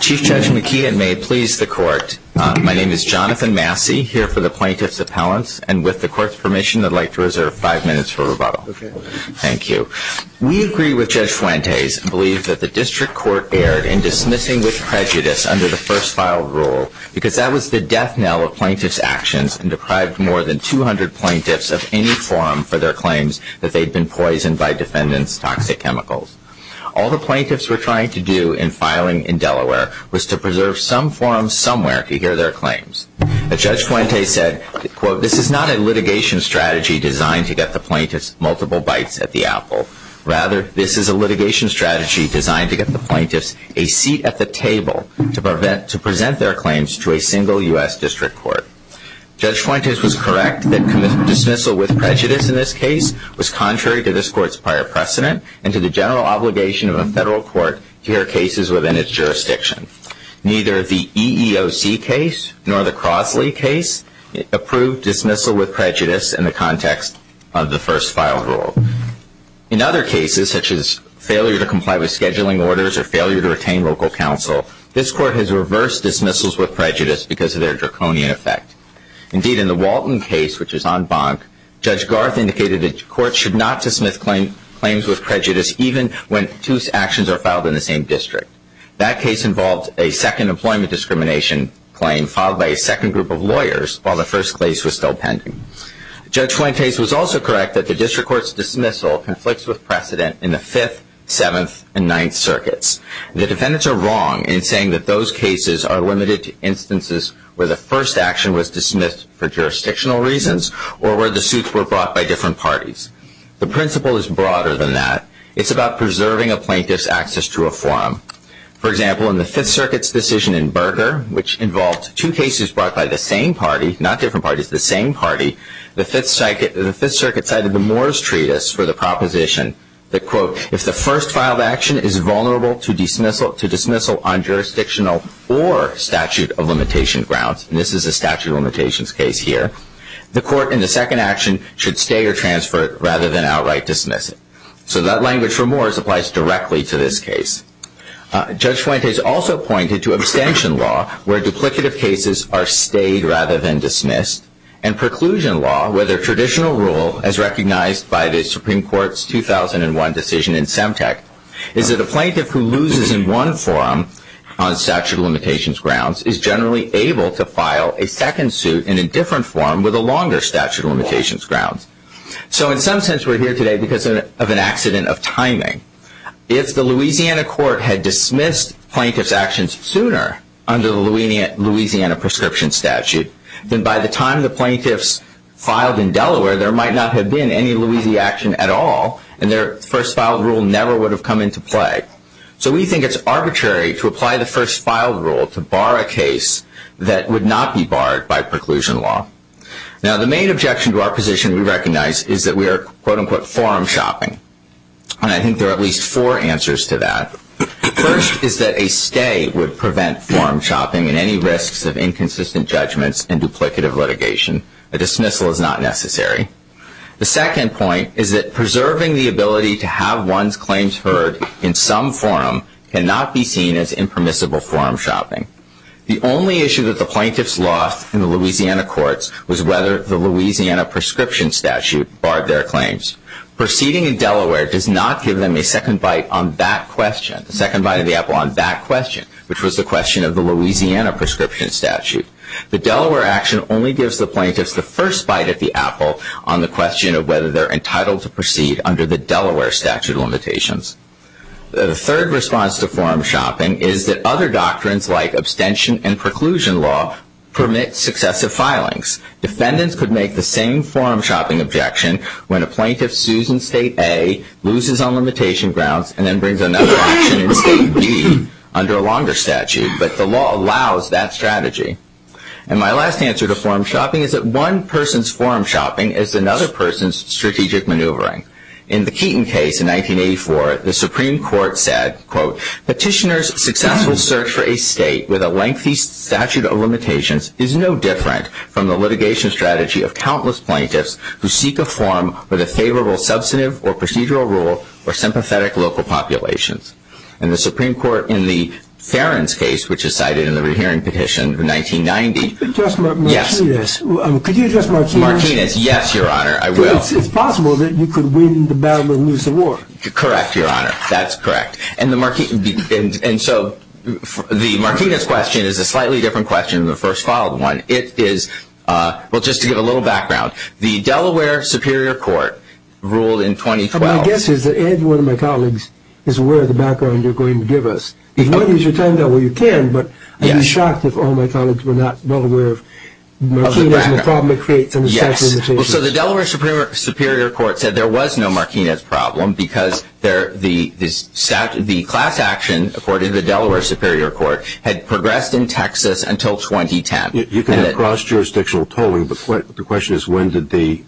Chief Judge McKeon, may it please the Court. My name is Jonathan Massey, here for the Plaintiff's Appellants, and with the Court's permission, I'd like to reserve five minutes for rebuttal. Thank you. We agree with Judge Fuentes and believe that the District Court erred in dismissing with prejudice under the first filed rule, because that was the death knell of plaintiffs' actions and deprived more than 200 plaintiffs of any forum for their claims that they'd been poisoned by defendants' toxic chemicals. All the plaintiffs were trying to do in filing in Delaware was to preserve some forum somewhere to hear their claims. As Judge Fuentes said, quote, this is not a litigation strategy designed to get the plaintiffs multiple bites at the apple. Rather, this is a litigation strategy designed to get the plaintiffs a seat at the table to present their claims to a single U.S. District Court. Judge Fuentes was correct that dismissal with prejudice in this case was contrary to this Court's prior precedent and to the general obligation of a federal court to hear cases within its jurisdiction. Neither the EEOC case nor the Crosley case approved dismissal with prejudice in the context of the first filed rule. In other cases, such as failure to comply with scheduling orders or failure to retain local counsel, this Court has reversed dismissals with prejudice because of their draconian effect. Indeed, in the Walton case, which was en banc, Judge Garth indicated that courts should not dismiss claims with prejudice even when two actions are filed in the same district. That case involved a second employment discrimination claim filed by a second group of lawyers while the first case was still pending. Judge Fuentes was also correct that the District Court's dismissal conflicts with precedent in the Fifth, Seventh, and Ninth Circuits. The defendants are wrong in saying that those cases are limited to instances where the first action was dismissed for jurisdictional reasons or where the suits were brought by different parties. The principle is broader than that. It's about preserving a plaintiff's access to a forum. For example, in the Fifth Circuit's decision in Berger, which involved two cases brought by the same party, not different parties, the same party, the Fifth Circuit cited the Moores Treatise for the proposition that, quote, if the first filed action is vulnerable to dismissal on jurisdictional or statute of limitation grounds, and this is a statute of limitations case here, the court in the second action should stay or transfer it rather than outright dismiss it. So that language for Moores applies directly to this case. Judge Fuentes also pointed to abstention law, where duplicative cases are stayed rather than dismissed, and preclusion law, where the traditional rule, as recognized by the Supreme Court's 2001 decision in Semtec, is that a plaintiff who loses in one forum on statute of limitations grounds is generally able to file a second suit in a different forum with a longer statute of limitations grounds. So in some sense, we're here today because of an accident of timing. If the Louisiana court had dismissed plaintiff's actions sooner under the Louisiana prescription statute, then by the time the plaintiffs filed in Delaware, there might not have been any Louisiana action at all, and their first filed rule never would have come into play. So we think it's arbitrary to apply the first filed rule to bar a case that would not be barred by preclusion law. Now, the main objection to our position we recognize is that we are, quote unquote, forum shopping. And I think there are at least four answers to that. First is that a stay would prevent forum shopping and any risks of inconsistent judgments and duplicative litigation. A dismissal is not necessary. The second point is that preserving the ability to have one's claims heard in some forum cannot be seen as impermissible forum shopping. The only issue that the plaintiffs lost in the Louisiana courts was whether the Louisiana prescription statute barred their claims. Proceeding in Delaware does not give them a second bite on that question, the second bite of the apple on that question, which was the question of the Louisiana prescription statute. The Delaware action only gives the plaintiffs the first bite of the apple on the question of whether they're entitled to proceed under the Delaware statute of limitations. The third response to forum shopping is that other doctrines like abstention and preclusion law permit successive filings. Defendants could make the same forum shopping objection when a plaintiff sues in state A, loses on limitation grounds, and then brings another action in state B under a longer statute. But the law allows that strategy. And my last answer to forum shopping is that one person's forum shopping is another person's strategic maneuvering. In the Keaton case in 1984, the Supreme Court said, quote, Petitioners' successful search for a state with a lengthy statute of limitations is no different from the litigation strategy of countless plaintiffs who seek a forum with a favorable substantive or procedural rule or sympathetic local populations. And the Supreme Court in the Ferens case, which is cited in the rehearing petition of 1990, yes. Could you address Martinez? Martinez, yes, Your Honor, I will. It's possible that you could win the battle and lose the war. Correct, Your Honor, that's correct. And so the Martinez question is a slightly different question than the first followed one. It is, well, just to give a little background, the Delaware Superior Court ruled in 2012. My guess is that Ed, one of my colleagues, is aware of the background you're going to give us. If you want to use your time, though, well, you can. But I'd be shocked if all my colleagues were not well aware of the problem it creates under statute of limitations. Well, so the Delaware Superior Court said there was no Martinez problem because the class action, according to the Delaware Superior Court, had progressed in Texas until 2010. You can have cross-jurisdictional tolling, but the question is when did the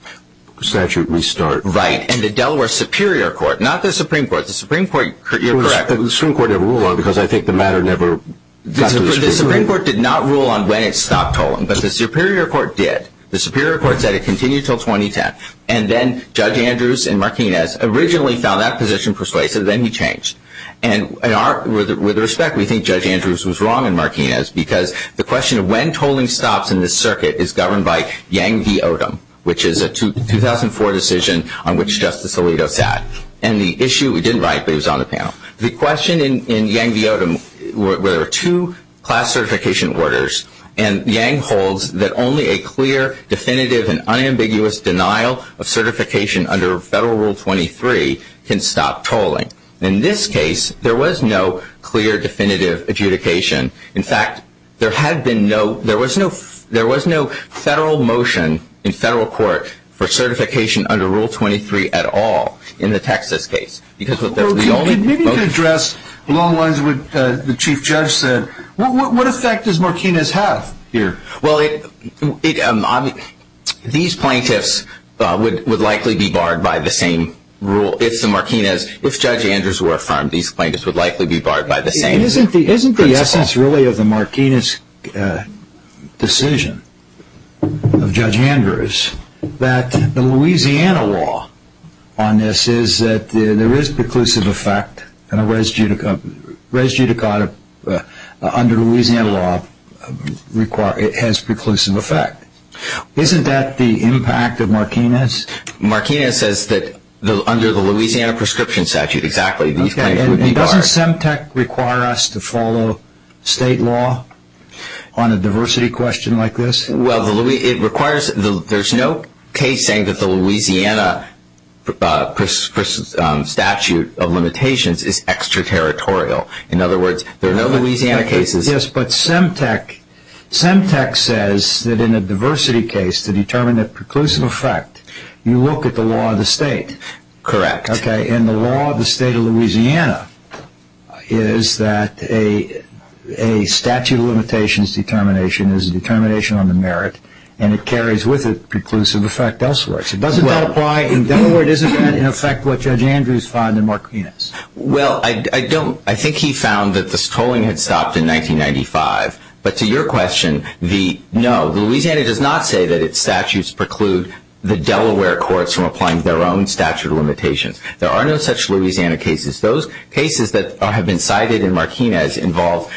statute restart. Right, and the Delaware Superior Court, not the Supreme Court, the Supreme Court, you're correct. The Supreme Court never ruled on it because I think the matter never got to the Supreme Court. The Supreme Court did not rule on when it stopped tolling, but the Superior Court did. The Superior Court said it continued until 2010, and then Judge Andrews and Martinez originally found that position persuasive, then he changed. And with respect, we think Judge Andrews was wrong and Martinez because the question of when tolling stops in this circuit is governed by Yang v. Odom, which is a 2004 decision on which Justice Alito sat. And the issue, it didn't write, but it was on the panel. The question in Yang v. Odom where there are two class certification orders and Yang holds that only a clear, definitive, and unambiguous denial of certification under Federal Rule 23 can stop tolling. In this case, there was no clear, definitive adjudication. In fact, there was no Federal motion in Federal court for certification under Rule 23 at all in the Texas case. Well, maybe to address along the lines of what the Chief Judge said, what effect does Martinez have here? Well, these plaintiffs would likely be barred by the same rule. If Judge Andrews were affirmed, these plaintiffs would likely be barred by the same principle. Isn't the essence really of the Martinez decision, of Judge Andrews, that the Louisiana law on this is that there is preclusive effect and a res judicata under Louisiana law has preclusive effect? Isn't that the impact of Martinez? Martinez says that under the Louisiana prescription statute, exactly, these plaintiffs would be barred. Okay, and doesn't Semtec require us to follow state law on a diversity question like this? Well, there's no case saying that the Louisiana statute of limitations is extraterritorial. In other words, there are no Louisiana cases. Yes, but Semtec says that in a diversity case, to determine the preclusive effect, you look at the law of the state. Correct. Okay, and the law of the state of Louisiana is that a statute of limitations determination is a determination on the merit and it carries with it preclusive effect elsewhere. Doesn't that apply in Delaware? Doesn't that affect what Judge Andrews found in Martinez? Well, I think he found that the tolling had stopped in 1995, but to your question, no. Louisiana does not say that its statutes preclude the Delaware courts from applying their own statute of limitations. There are no such Louisiana cases. Those cases that have been cited in Martinez involve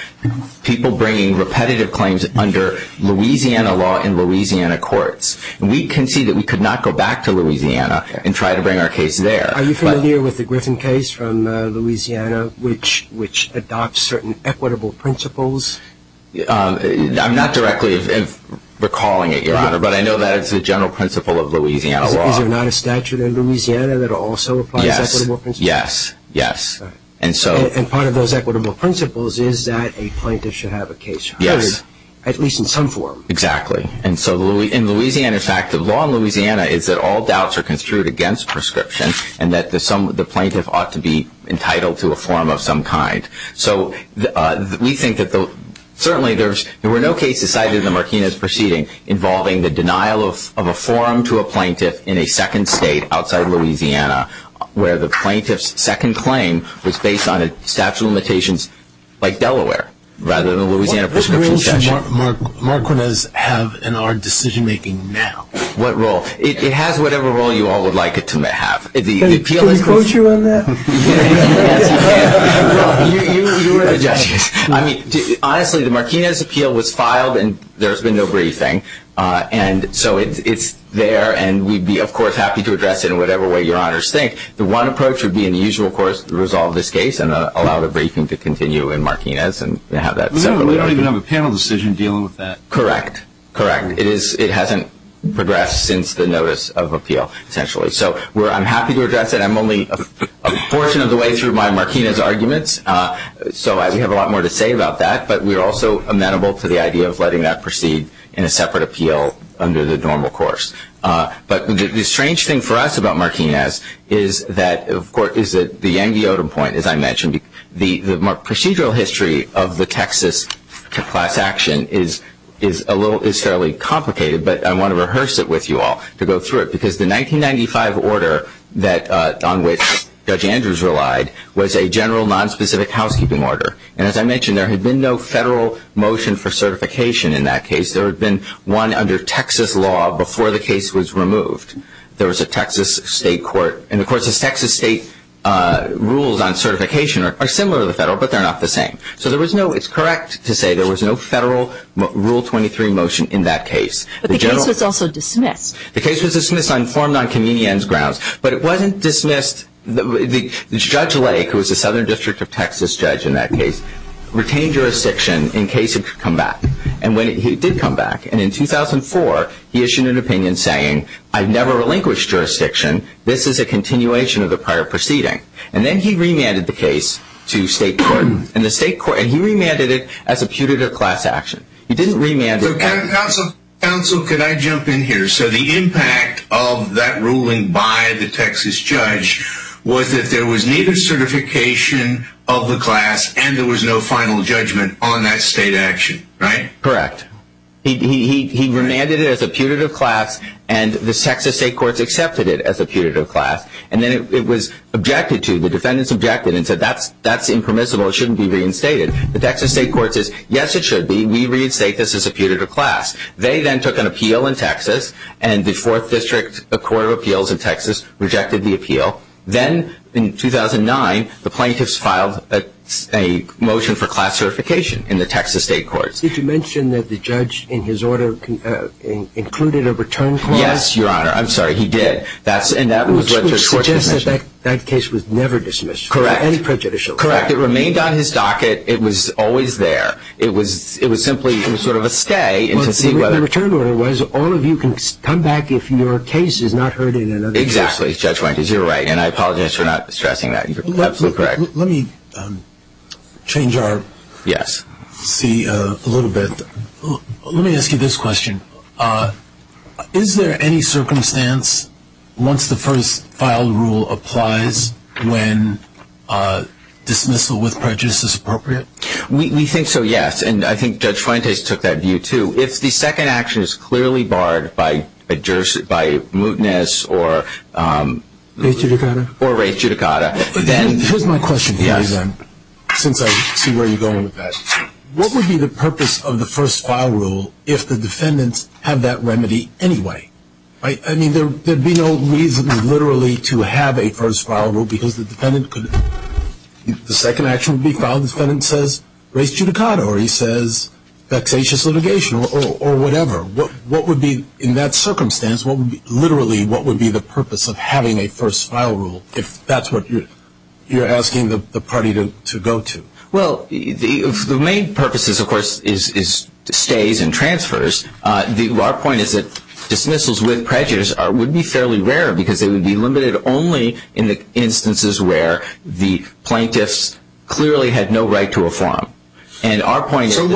people bringing repetitive claims under Louisiana law in Louisiana courts. We concede that we could not go back to Louisiana and try to bring our case there. Are you familiar with the Griffin case from Louisiana, which adopts certain equitable principles? I'm not directly recalling it, Your Honor, but I know that it's a general principle of Louisiana law. Is there not a statute in Louisiana that also applies equitable principles? Yes, yes. And part of those equitable principles is that a plaintiff should have a case to hide, at least in some form. Exactly. In Louisiana, in fact, the law in Louisiana is that all doubts are construed against prescription and that the plaintiff ought to be entitled to a form of some kind. So we think that certainly there were no cases cited in the Martinez proceeding involving the denial of a form to a plaintiff in a second state outside Louisiana where the plaintiff's second claim was based on a statute of limitations like Delaware rather than a Louisiana prescription statute. What role should Martinez have in our decision-making now? What role? It has whatever role you all would like it to have. Can we quote you on that? Yes, you can. You are the judge. I mean, honestly, the Martinez appeal was filed and there has been no briefing, and so it's there and we'd be, of course, happy to address it in whatever way Your Honors think. The one approach would be in the usual course to resolve this case and allow the briefing to continue in Martinez and have that separately argued. We don't even have a panel decision dealing with that. Correct. Correct. It hasn't progressed since the notice of appeal, essentially. So I'm happy to address it. I'm only a portion of the way through my Martinez arguments. So we have a lot more to say about that, but we're also amenable to the idea of letting that proceed in a separate appeal under the normal course. But the strange thing for us about Martinez is that, of course, is that the Yankee-Odom point, as I mentioned, the procedural history of the Texas class action is fairly complicated, but I want to rehearse it with you all to go through it because the 1995 order on which Judge Andrews relied was a general nonspecific housekeeping order. And as I mentioned, there had been no federal motion for certification in that case. There had been one under Texas law before the case was removed. There was a Texas state court. And, of course, the Texas state rules on certification are similar to the federal, but they're not the same. So it's correct to say there was no federal Rule 23 motion in that case. But the case was also dismissed. The case was dismissed and informed on convenience grounds. But it wasn't dismissed. Judge Lake, who was the Southern District of Texas judge in that case, retained jurisdiction in case it could come back. And it did come back. And in 2004, he issued an opinion saying, I've never relinquished jurisdiction. This is a continuation of the prior proceeding. And then he remanded the case to state court. And he remanded it as a putative class action. He didn't remand it. So, counsel, could I jump in here? So the impact of that ruling by the Texas judge was that there was needed certification of the class, and there was no final judgment on that state action, right? Correct. He remanded it as a putative class, and the Texas state courts accepted it as a putative class. And then it was objected to. The defendants objected and said, that's impermissible. It shouldn't be reinstated. The Texas state courts said, yes, it should be. We reinstate this as a putative class. They then took an appeal in Texas, and the Fourth District Court of Appeals in Texas rejected the appeal. Then, in 2009, the plaintiffs filed a motion for class certification in the Texas state courts. Did you mention that the judge, in his order, included a return clause? Yes, Your Honor. I'm sorry, he did. And that was what your court commissioned. Which would suggest that that case was never dismissed for any prejudicial reason. Correct. It remained on his docket. It was always there. It was simply sort of a stay. The return order was, all of you can come back if your case is not heard in another case. Exactly, Judge Weintraub. You're right, and I apologize for not stressing that. You're absolutely correct. Let me change our scene a little bit. Let me ask you this question. Is there any circumstance, once the first file rule applies, when dismissal with prejudice is appropriate? We think so, yes. And I think Judge Fuentes took that view, too. If the second action is clearly barred by mootness or race judicata, then... Here's my question to you, then, since I see where you're going with that. What would be the purpose of the first file rule if the defendants have that remedy anyway? I mean, there would be no reason, literally, to have a first file rule because the second action would be if the trial defendant says race judicata or he says vexatious litigation or whatever. What would be, in that circumstance, literally, what would be the purpose of having a first file rule if that's what you're asking the party to go to? Well, the main purpose, of course, is stays and transfers. Our point is that dismissals with prejudice would be fairly rare because they would be limited only in the instances where the plaintiffs clearly had no right to reform. And our point is... So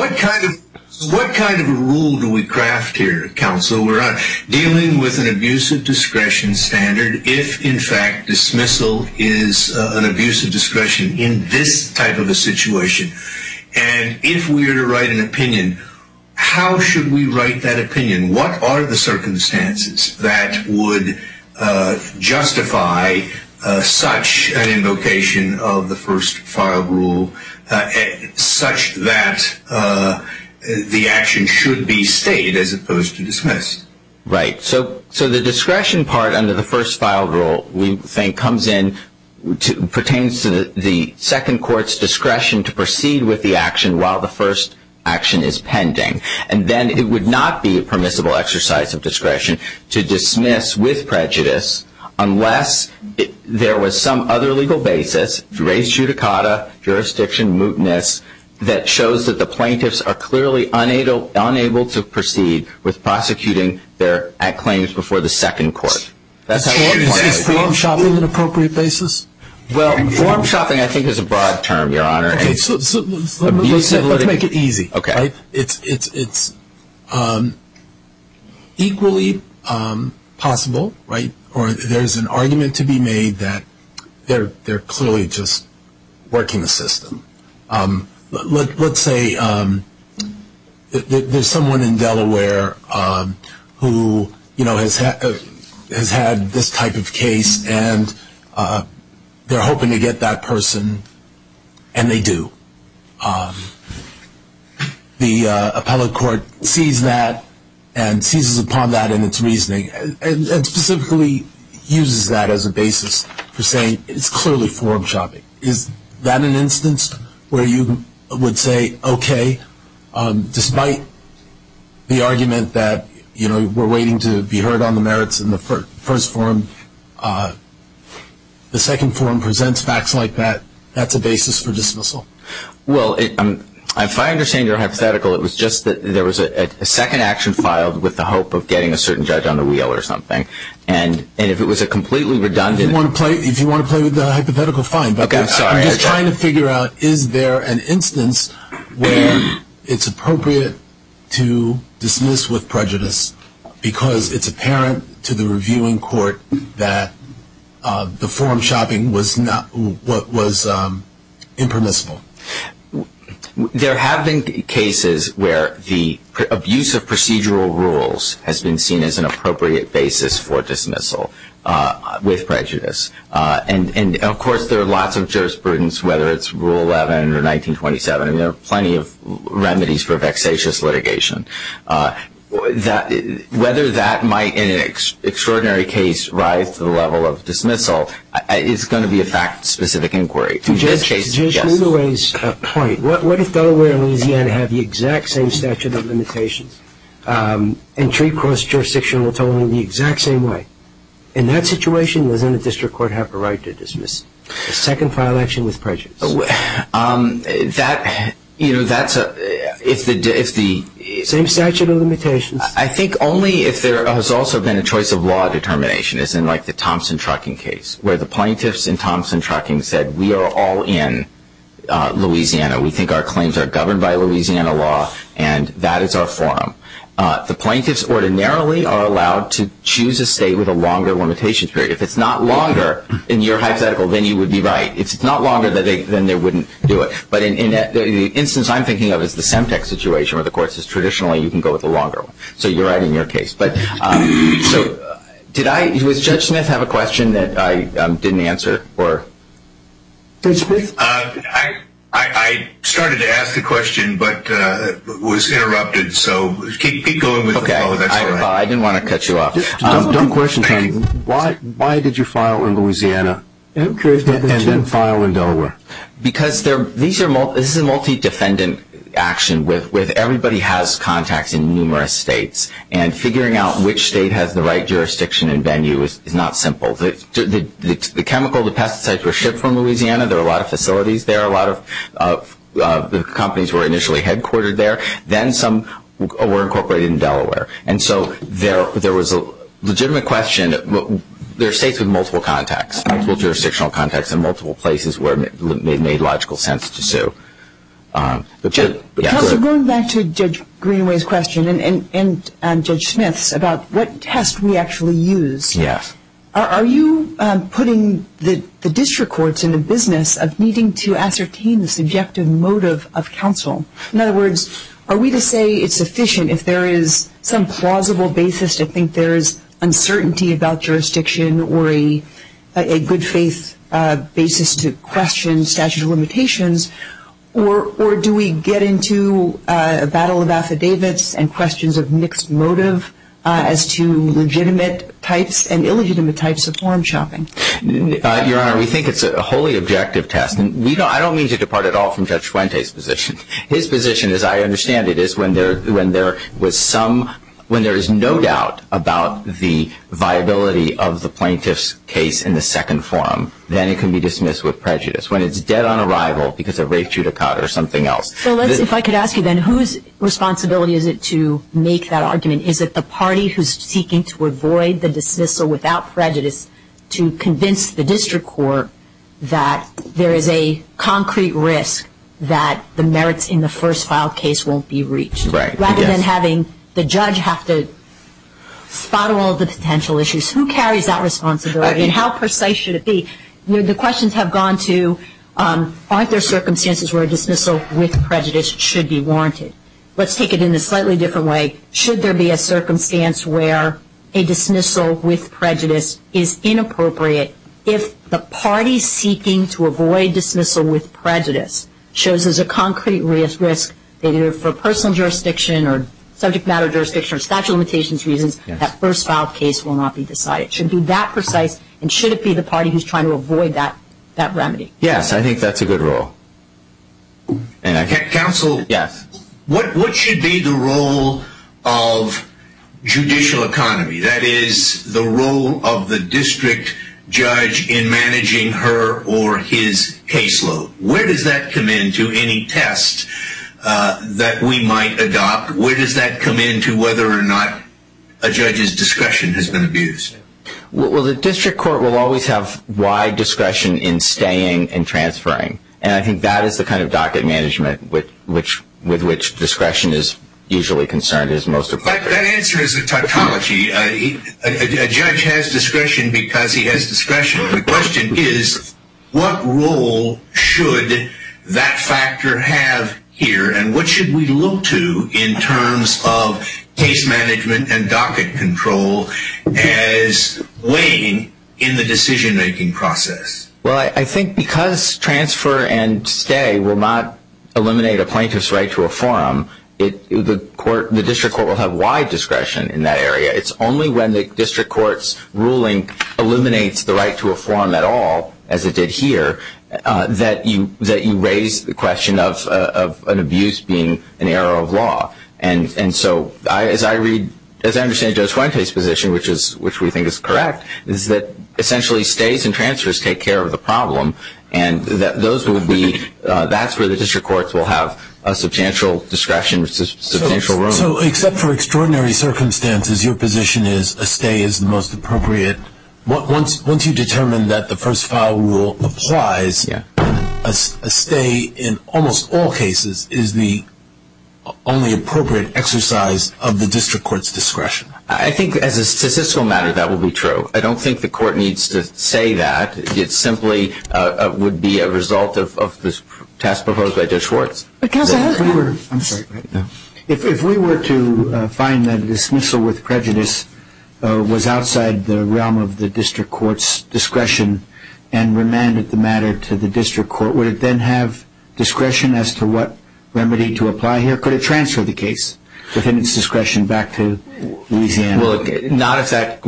what kind of rule do we craft here, counsel, where we're dealing with an abusive discretion standard if, in fact, dismissal is an abusive discretion in this type of a situation? And if we were to write an opinion, how should we write that opinion? What are the circumstances that would justify such an invocation of the first file rule such that the action should be stated as opposed to dismissed? Right. So the discretion part under the first file rule, we think, pertains to the second court's discretion to proceed with the action while the first action is pending. And then it would not be a permissible exercise of discretion to dismiss with prejudice unless there was some other legal basis, race, judicata, jurisdiction, mootness, that shows that the plaintiffs are clearly unable to proceed with prosecuting their claims before the second court. Is form shopping an appropriate basis? Well, form shopping, I think, is a broad term, Your Honor. Okay, so let's make it easy. Okay. It's equally possible, right, or there's an argument to be made that they're clearly just working the system. Let's say there's someone in Delaware who, you know, has had this type of case and they're hoping to get that person, and they do. The appellate court sees that and seizes upon that in its reasoning and specifically uses that as a basis for saying it's clearly form shopping. Is that an instance where you would say, okay, despite the argument that, you know, we're waiting to be heard on the merits in the first forum, the second forum presents facts like that, that's a basis for dismissal? Well, if I understand your hypothetical, it was just that there was a second action filed with the hope of getting a certain judge on the wheel or something. And if it was a completely redundant – If you want to play with the hypothetical, fine. Okay, sorry. I'm just trying to figure out, is there an instance where it's appropriate to dismiss with prejudice because it's apparent to the reviewing court that the form shopping was impermissible? There have been cases where the abuse of procedural rules has been seen as an appropriate basis for dismissal with prejudice. And, of course, there are lots of jurisprudence, whether it's Rule 11 or 1927, and there are plenty of remedies for vexatious litigation. Whether that might, in an extraordinary case, rise to the level of dismissal is going to be a fact-specific inquiry. To Judge Ludoway's point, what if Delaware and Louisiana have the exact same statute of limitations and treat cross-jurisdictional totaling the exact same way? In that situation, doesn't a district court have the right to dismiss? A second-file action with prejudice. That – you know, that's a – if the – Same statute of limitations. I think only if there has also been a choice of law determination, as in, like, the Thompson Trucking case, where the plaintiffs in Thompson Trucking said, we are all in Louisiana, we think our claims are governed by Louisiana law, and that is our forum. The plaintiffs ordinarily are allowed to choose a state with a longer limitations period. If it's not longer in your hypothetical, then you would be right. If it's not longer, then they wouldn't do it. But in the instance I'm thinking of, it's the Semtex situation where the court says, traditionally, you can go with the longer one. So you're right in your case. But, so, did I – does Judge Smith have a question that I didn't answer? Or – Judge Smith? I started to ask the question, but was interrupted. So keep going with the follow-up. Okay. I didn't want to cut you off. Dumb question, Tony. Why did you file in Louisiana and then file in Delaware? Because these are – this is a multi-defendant action with everybody has contacts in numerous states. And figuring out which state has the right jurisdiction and venue is not simple. The chemical, the pesticides were shipped from Louisiana. There are a lot of facilities there. A lot of companies were initially headquartered there. Then some were incorporated in Delaware. And so there was a legitimate question. There are states with multiple contacts, multiple jurisdictional contacts and multiple places where it made logical sense to sue. Counselor, going back to Judge Greenaway's question and Judge Smith's about what test we actually use. Yes. Are you putting the district courts in the business of needing to ascertain the subjective motive of counsel? In other words, are we to say it's sufficient if there is some plausible basis to think there is uncertainty about jurisdiction or a good faith basis to question statute of limitations, or do we get into a battle of affidavits and questions of mixed motive as to legitimate types and illegitimate types of foreign shopping? Your Honor, we think it's a wholly objective test. I don't mean to depart at all from Judge Fuente's position. His position, as I understand it, is when there was some – when there is no doubt about the viability of the plaintiff's case in the second forum, then it can be dismissed with prejudice. When it's dead on arrival because of rape, judicata or something else. If I could ask you then, whose responsibility is it to make that argument? Is it the party who is seeking to avoid the dismissal without prejudice to convince the district court that there is a concrete risk that the merits in the first file case won't be reached? Right. Rather than having the judge have to spot all the potential issues. Who carries that responsibility and how precise should it be? The questions have gone to aren't there circumstances where a dismissal with prejudice should be warranted? Let's take it in a slightly different way. Should there be a circumstance where a dismissal with prejudice is inappropriate if the party seeking to avoid dismissal with prejudice shows there's a concrete risk, either for personal jurisdiction or subject matter jurisdiction or statute of limitations reasons, that first file case will not be decided. Should it be that precise and should it be the party who is trying to avoid that remedy? Yes, I think that's a good role. Counsel? Yes. What should be the role of judicial economy? That is the role of the district judge in managing her or his caseload. Where does that come into any test that we might adopt? Where does that come into whether or not a judge's discretion has been abused? Well, the district court will always have wide discretion in staying and transferring, and I think that is the kind of docket management with which discretion is usually concerned is most appropriate. But that answer is a tautology. A judge has discretion because he has discretion. The question is what role should that factor have here and what should we look to in terms of case management and docket control as weighing in the decision-making process? Well, I think because transfer and stay will not eliminate a plaintiff's right to a forum, the district court will have wide discretion in that area. It's only when the district court's ruling eliminates the right to a forum at all, as it did here, that you raise the question of an abuse being an error of law. And so as I understand Judge Fuente's position, which we think is correct, is that essentially stays and transfers take care of the problem, and that's where the district courts will have a substantial discretion, a substantial role. So except for extraordinary circumstances, your position is a stay is the most appropriate. Once you determine that the first file rule applies, a stay in almost all cases is the only appropriate exercise of the district court's discretion. I think as a statistical matter that will be true. I don't think the court needs to say that. It simply would be a result of the task proposed by Judge Schwartz. I'm sorry. If we were to find that dismissal with prejudice was outside the realm of the district court's discretion and remanded the matter to the district court, would it then have discretion as to what remedy to apply here? Could it transfer the case within its discretion back to Louisiana? Not if that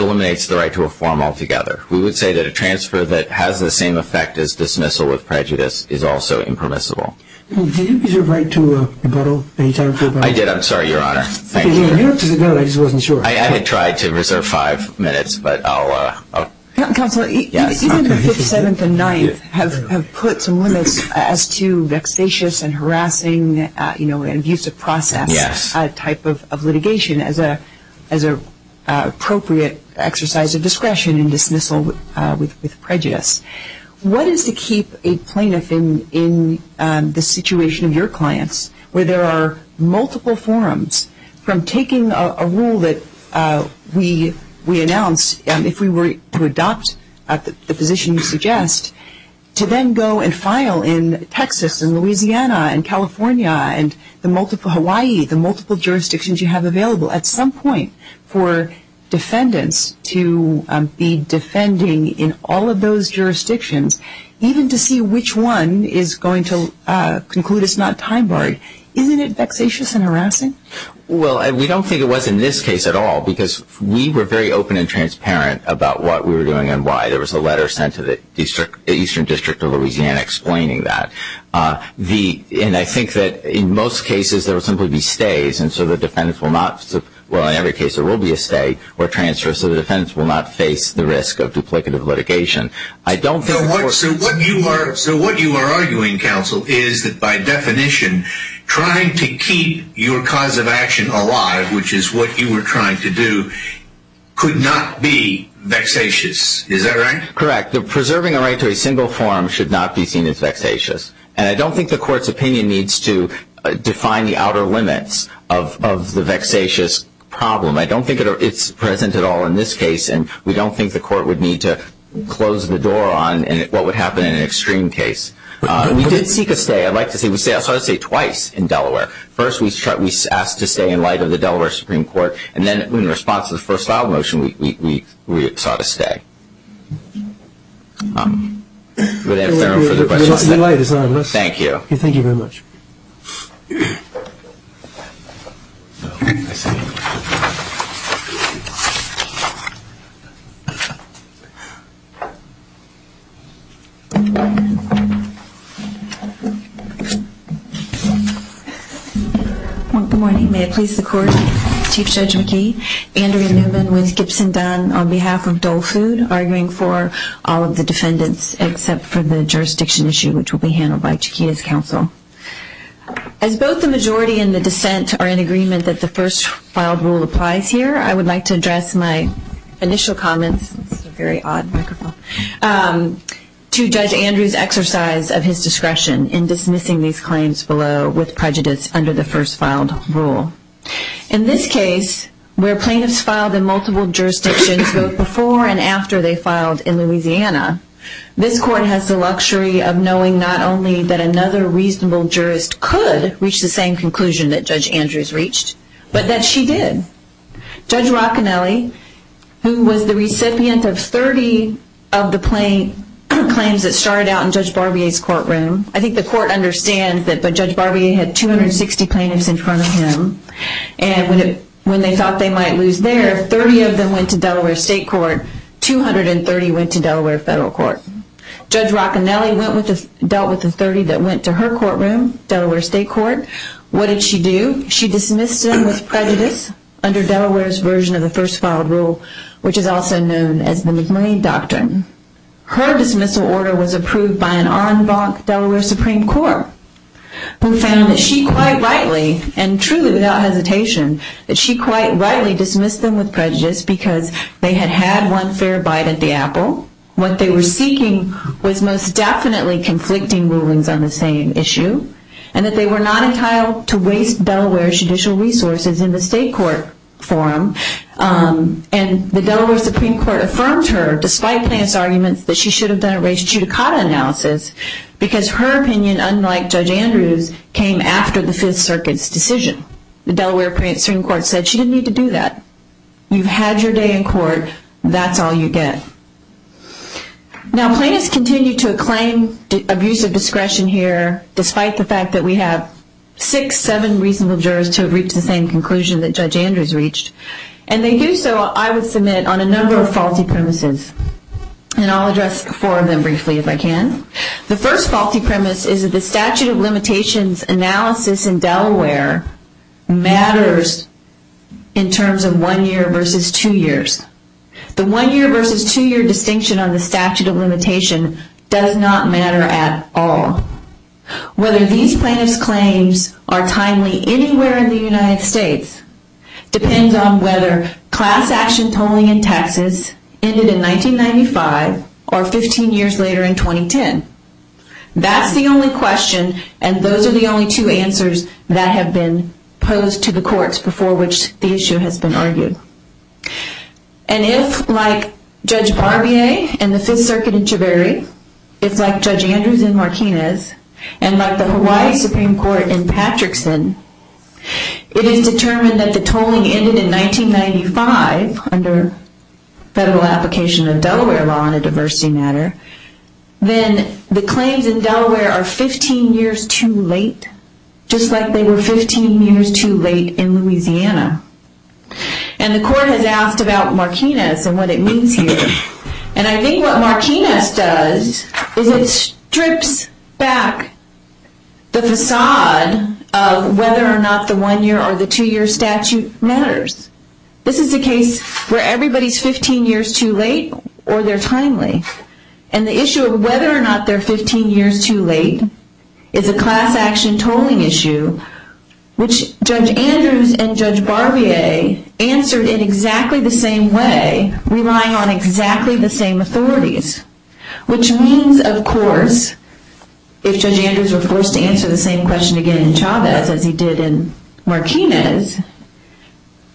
eliminates the right to a forum altogether. We would say that a transfer that has the same effect as dismissal with prejudice is also impermissible. Did you reserve right to rebuttal at any time? I did. I'm sorry, Your Honor. I didn't try to reserve five minutes. Counsel, even the 57th and 9th have put some limits as to vexatious and harassing and abusive process type of litigation as an appropriate exercise of discretion in dismissal with prejudice. What is to keep a plaintiff in the situation of your clients where there are multiple forums, from taking a rule that we announce if we were to adopt the position you suggest, to then go and file in Texas and Louisiana and California and Hawaii, the multiple jurisdictions you have available, at some point for defendants to be defending in all of those jurisdictions, even to see which one is going to conclude it's not time-barred, isn't it vexatious and harassing? Well, we don't think it was in this case at all because we were very open and transparent about what we were doing and why there was a letter sent to the Eastern District of Louisiana explaining that. And I think that in most cases there will simply be stays, and so the defendants will not – well, in every case there will be a stay or transfer, so the defendants will not face the risk of duplicative litigation. So what you are arguing, counsel, is that by definition trying to keep your cause of action alive, which is what you were trying to do, could not be vexatious. Is that right? Correct. Preserving a right to a single forum should not be seen as vexatious. And I don't think the court's opinion needs to define the outer limits of the vexatious problem. I don't think it's present at all in this case, and we don't think the court would need to close the door on what would happen in an extreme case. We did seek a stay. I'd like to say we sought a stay twice in Delaware. First we asked to stay in light of the Delaware Supreme Court, and then in response to the first file motion we sought a stay. Do we have time for further questions? Thank you. Thank you very much. Good morning. May it please the court. Chief Judge McKee. Andrea Newman with Gibson Dunn on behalf of Dole Food, arguing for all of the defendants except for the jurisdiction issue, which will be handled by Chiquita's counsel. As both the majority and the dissent are in agreement that the first filed rule applies here, I would like to address my initial comments to Judge Andrew's exercise of his discretion in dismissing these claims below with prejudice under the first filed rule. In this case, where plaintiffs filed in multiple jurisdictions both before and after they filed in Louisiana, this court has the luxury of knowing not only that another reasonable jurist could reach the same conclusion that Judge Andrew's reached, but that she did. Judge Roccanelli, who was the recipient of 30 of the claims that started out in Judge Barbier's courtroom, I think the court understands that Judge Barbier had 260 plaintiffs in front of him, and when they thought they might lose there, 30 of them went to Delaware State Court, 230 went to Delaware Federal Court. Judge Roccanelli dealt with the 30 that went to her courtroom, Delaware State Court. What did she do? She dismissed them with prejudice under Delaware's version of the first filed rule, which is also known as the McMurray Doctrine. Her dismissal order was approved by an en banc Delaware Supreme Court, who found that she quite rightly, and truly without hesitation, that she quite rightly dismissed them with prejudice because they had had one fair bite at the apple. What they were seeking was most definitely conflicting rulings on the same issue, and that they were not entitled to waste Delaware's judicial resources in the state court forum. And the Delaware Supreme Court affirmed her, despite plaintiff's arguments, that she should have done a race judicata analysis, because her opinion, unlike Judge Andrews, came after the Fifth Circuit's decision. The Delaware Supreme Court said she didn't need to do that. You've had your day in court, that's all you get. Now plaintiffs continue to acclaim abuse of discretion here, despite the fact that we have six, seven reasonable jurors who have reached the same conclusion that Judge Andrews reached. And they do so, I would submit, on a number of faulty premises. And I'll address four of them briefly if I can. The first faulty premise is that the statute of limitations analysis in Delaware matters in terms of one year versus two years. The one year versus two year distinction on the statute of limitation does not matter at all. Whether these plaintiffs' claims are timely anywhere in the United States depends on whether class action tolling in Texas ended in 1995 or 15 years later in 2010. That's the only question, and those are the only two answers that have been posed to the courts before which the issue has been argued. And if, like Judge Barbier in the Fifth Circuit in Chivary, it's like Judge Andrews in Martinez, and like the Hawaii Supreme Court in Patrickson, it is determined that the tolling ended in 1995, under federal application of Delaware law on a diversity matter, then the claims in Delaware are 15 years too late, just like they were 15 years too late in Louisiana. And the court has asked about Martinez and what it means here. And I think what Martinez does is it strips back the facade of whether or not the one year or the two year statute matters. This is a case where everybody's 15 years too late or they're timely. And the issue of whether or not they're 15 years too late is a class action tolling issue which Judge Andrews and Judge Barbier answered in exactly the same way, relying on exactly the same authorities, which means, of course, if Judge Andrews were forced to answer the same question again in Chavez as he did in Martinez,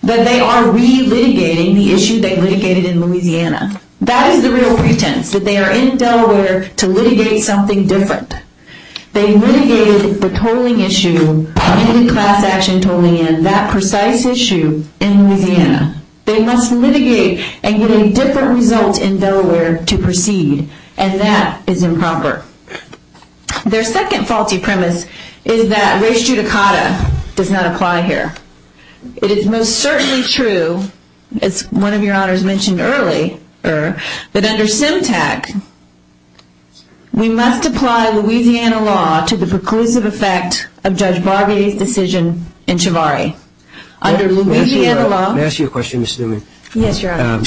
that they are relitigating the issue they litigated in Louisiana. That is the real pretense, that they are in Delaware to litigate something different. They litigated the tolling issue, class action tolling in, that precise issue in Louisiana. They must litigate and get a different result in Delaware to proceed. And that is improper. Their second faulty premise is that res judicata does not apply here. It is most certainly true, as one of your honors mentioned earlier, that under SEMTAC we must apply Louisiana law to the preclusive effect of Judge Barbier's decision in Chivari. Under Louisiana law- May I ask you a question, Ms. Newman? Yes, your honor.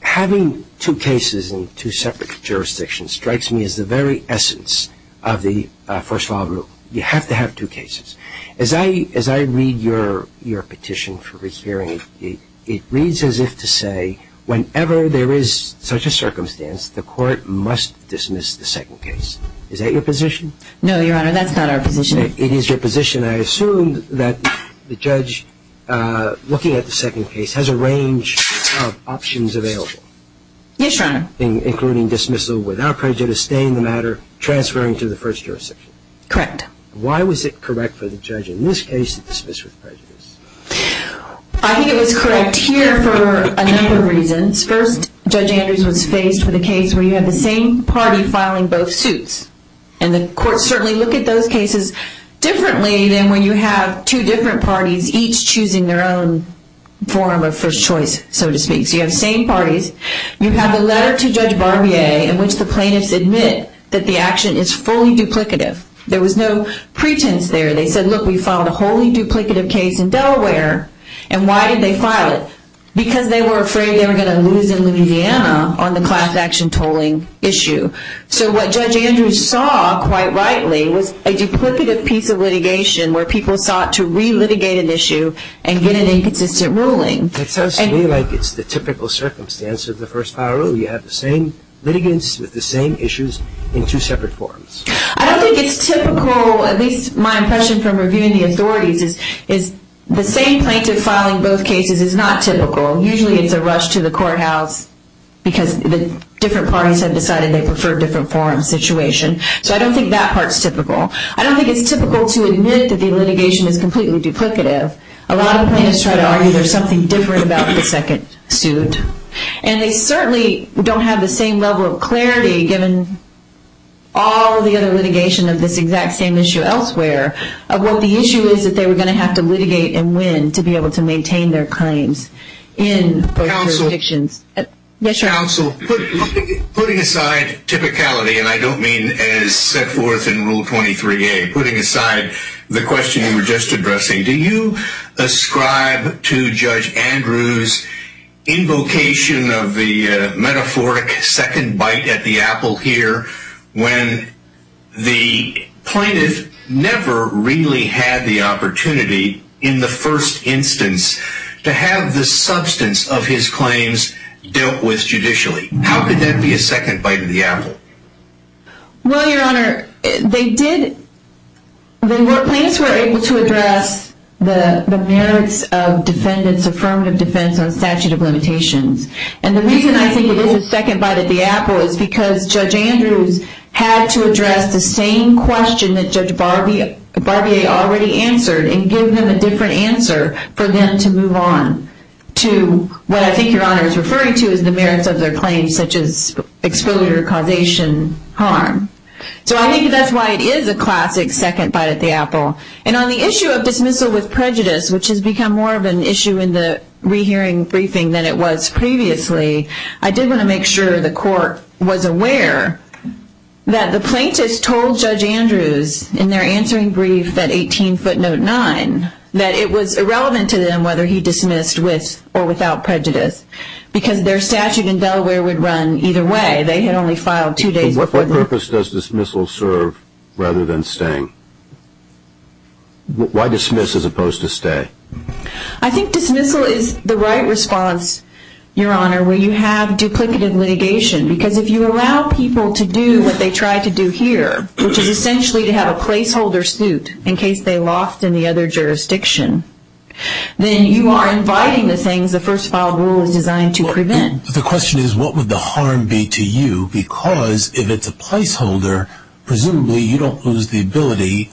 Having two cases in two separate jurisdictions strikes me as the very essence of the first law rule. You have to have two cases. As I read your petition for hearing, it reads as if to say whenever there is such a circumstance, the court must dismiss the second case. Is that your position? No, your honor, that's not our position. It is your position. I assume that the judge looking at the second case has a range of options available. Yes, your honor. Including dismissal without prejudice, staying in the matter, transferring to the first jurisdiction. Correct. Why was it correct for the judge in this case to dismiss with prejudice? I think it was correct here for a number of reasons. First, Judge Andrews was faced with a case where you had the same party filing both suits. And the courts certainly look at those cases differently than when you have two different parties each choosing their own form of first choice, so to speak. So you have the same parties. You have the letter to Judge Barbier in which the plaintiffs admit that the action is fully duplicative. There was no pretense there. They said, look, we filed a wholly duplicative case in Delaware. And why did they file it? Because they were afraid they were going to lose in Louisiana on the class action tolling issue. So what Judge Andrews saw, quite rightly, was a duplicative piece of litigation where people sought to re-litigate an issue and get an inconsistent ruling. It sounds to me like it's the typical circumstance of the first file rule. You have the same litigants with the same issues in two separate forms. I don't think it's typical, at least my impression from reviewing the authorities, is the same plaintiff filing both cases is not typical. Usually it's a rush to the courthouse because the different parties have decided they prefer different forms situation. So I don't think that part's typical. I don't think it's typical to admit that the litigation is completely duplicative. A lot of plaintiffs try to argue there's something different about the second suit. And they certainly don't have the same level of clarity, given all the other litigation of this exact same issue elsewhere, of what the issue is that they were going to have to litigate and win to be able to maintain their claims in both jurisdictions. Counsel, putting aside typicality, and I don't mean as set forth in Rule 23A, putting aside the question you were just addressing, do you ascribe to Judge Andrews' invocation of the metaphoric second bite at the apple here when the plaintiff never really had the opportunity in the first instance to have the substance of his claims dealt with judicially? How could that be a second bite at the apple? Well, Your Honor, the plaintiffs were able to address the merits of defendants' affirmative defense on statute of limitations. And the reason I think it is a second bite at the apple is because Judge Andrews had to address the same question that Judge Barbier already answered and give them a different answer for them to move on to what I think Your Honor is referring to which is the merits of their claims such as exposure, causation, harm. So I think that's why it is a classic second bite at the apple. And on the issue of dismissal with prejudice, which has become more of an issue in the rehearing briefing than it was previously, I did want to make sure the court was aware that the plaintiffs told Judge Andrews in their answering brief at 18 foot note 9 that it was irrelevant to them whether he dismissed with or without prejudice because their statute in Delaware would run either way. They had only filed two days before. What purpose does dismissal serve rather than staying? Why dismiss as opposed to stay? I think dismissal is the right response, Your Honor, where you have duplicative litigation because if you allow people to do what they try to do here, which is essentially to have a placeholder suit in case they lost in the other jurisdiction, then you are inviting the things the first file rule is designed to prevent. The question is what would the harm be to you because if it's a placeholder, presumably you don't lose the ability,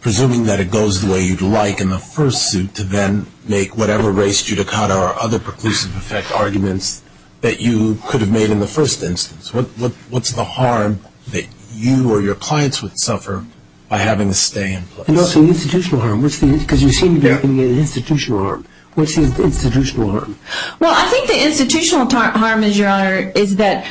presuming that it goes the way you'd like in the first suit, to then make whatever race, judicata, or other preclusive effect arguments that you could have made in the first instance. What's the harm that you or your clients would suffer by having to stay in place? And also institutional harm because you seem to be talking about institutional harm. What's the institutional harm? Well, I think the institutional harm, Your Honor, is that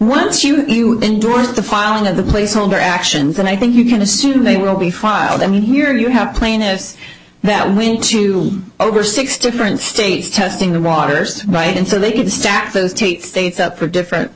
once you endorse the filing of the placeholder actions, and I think you can assume they will be filed. I mean here you have plaintiffs that went to over six different states testing the waters, right, and so they could stack those states up for different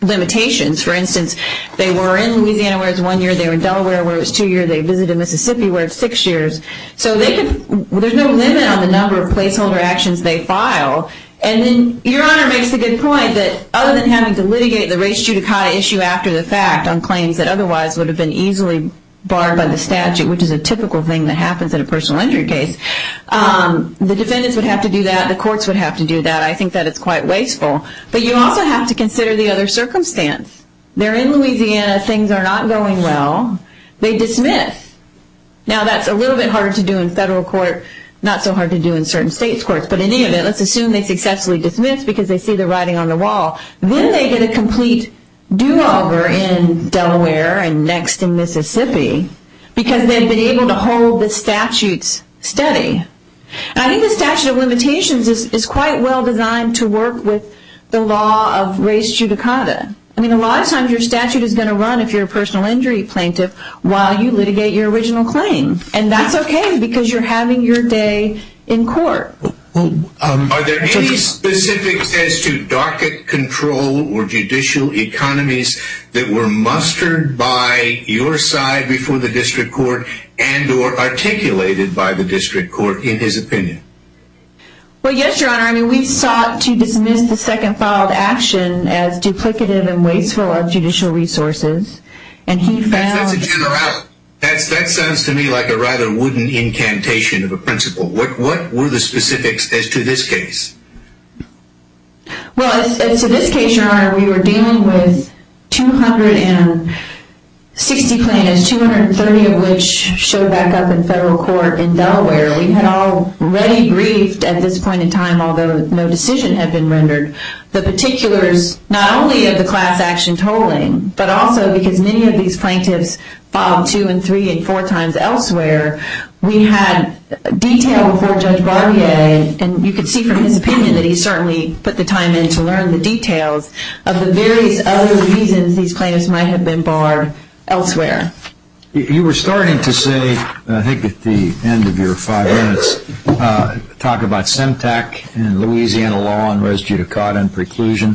limitations. For instance, they were in Louisiana where it was one year, they were in Delaware where it was two years, they visited Mississippi where it's six years. So there's no limit on the number of placeholder actions they file. And then Your Honor makes a good point that other than having to litigate the race, judicata issue after the fact on claims that otherwise would have been easily barred by the statute, which is a typical thing that happens in a personal injury case, the defendants would have to do that, the courts would have to do that. I think that it's quite wasteful. But you also have to consider the other circumstance. They're in Louisiana, things are not going well, they dismiss. Now that's a little bit harder to do in federal court, not so hard to do in certain states' courts, but in any event let's assume they successfully dismiss because they see the writing on the wall. Then they get a complete do-over in Delaware and next in Mississippi because they've been able to hold the statute steady. I think the statute of limitations is quite well designed to work with the law of race judicata. I mean a lot of times your statute is going to run if you're a personal injury plaintiff while you litigate your original claim. And that's okay because you're having your day in court. Are there any specifics as to docket control or judicial economies that were mustered by your side before the district court and or articulated by the district court in his opinion? Well, yes, Your Honor. I mean we sought to dismiss the second filed action as duplicative and wasteful of judicial resources. That sounds to me like a rather wooden incantation of a principle. What were the specifics as to this case? Well, as to this case, Your Honor, we were dealing with 260 plaintiffs, 230 of which showed back up in federal court in Delaware. We had already briefed at this point in time, although no decision had been rendered, the particulars not only of the class action tolling but also because many of these plaintiffs filed two and three and four times elsewhere, we had detailed before Judge Barbier, and you could see from his opinion that he certainly put the time in to learn the details of the various other reasons these plaintiffs might have been barred elsewhere. You were starting to say, I think at the end of your five minutes, talk about SEMTAC and Louisiana law and res judicata and preclusion.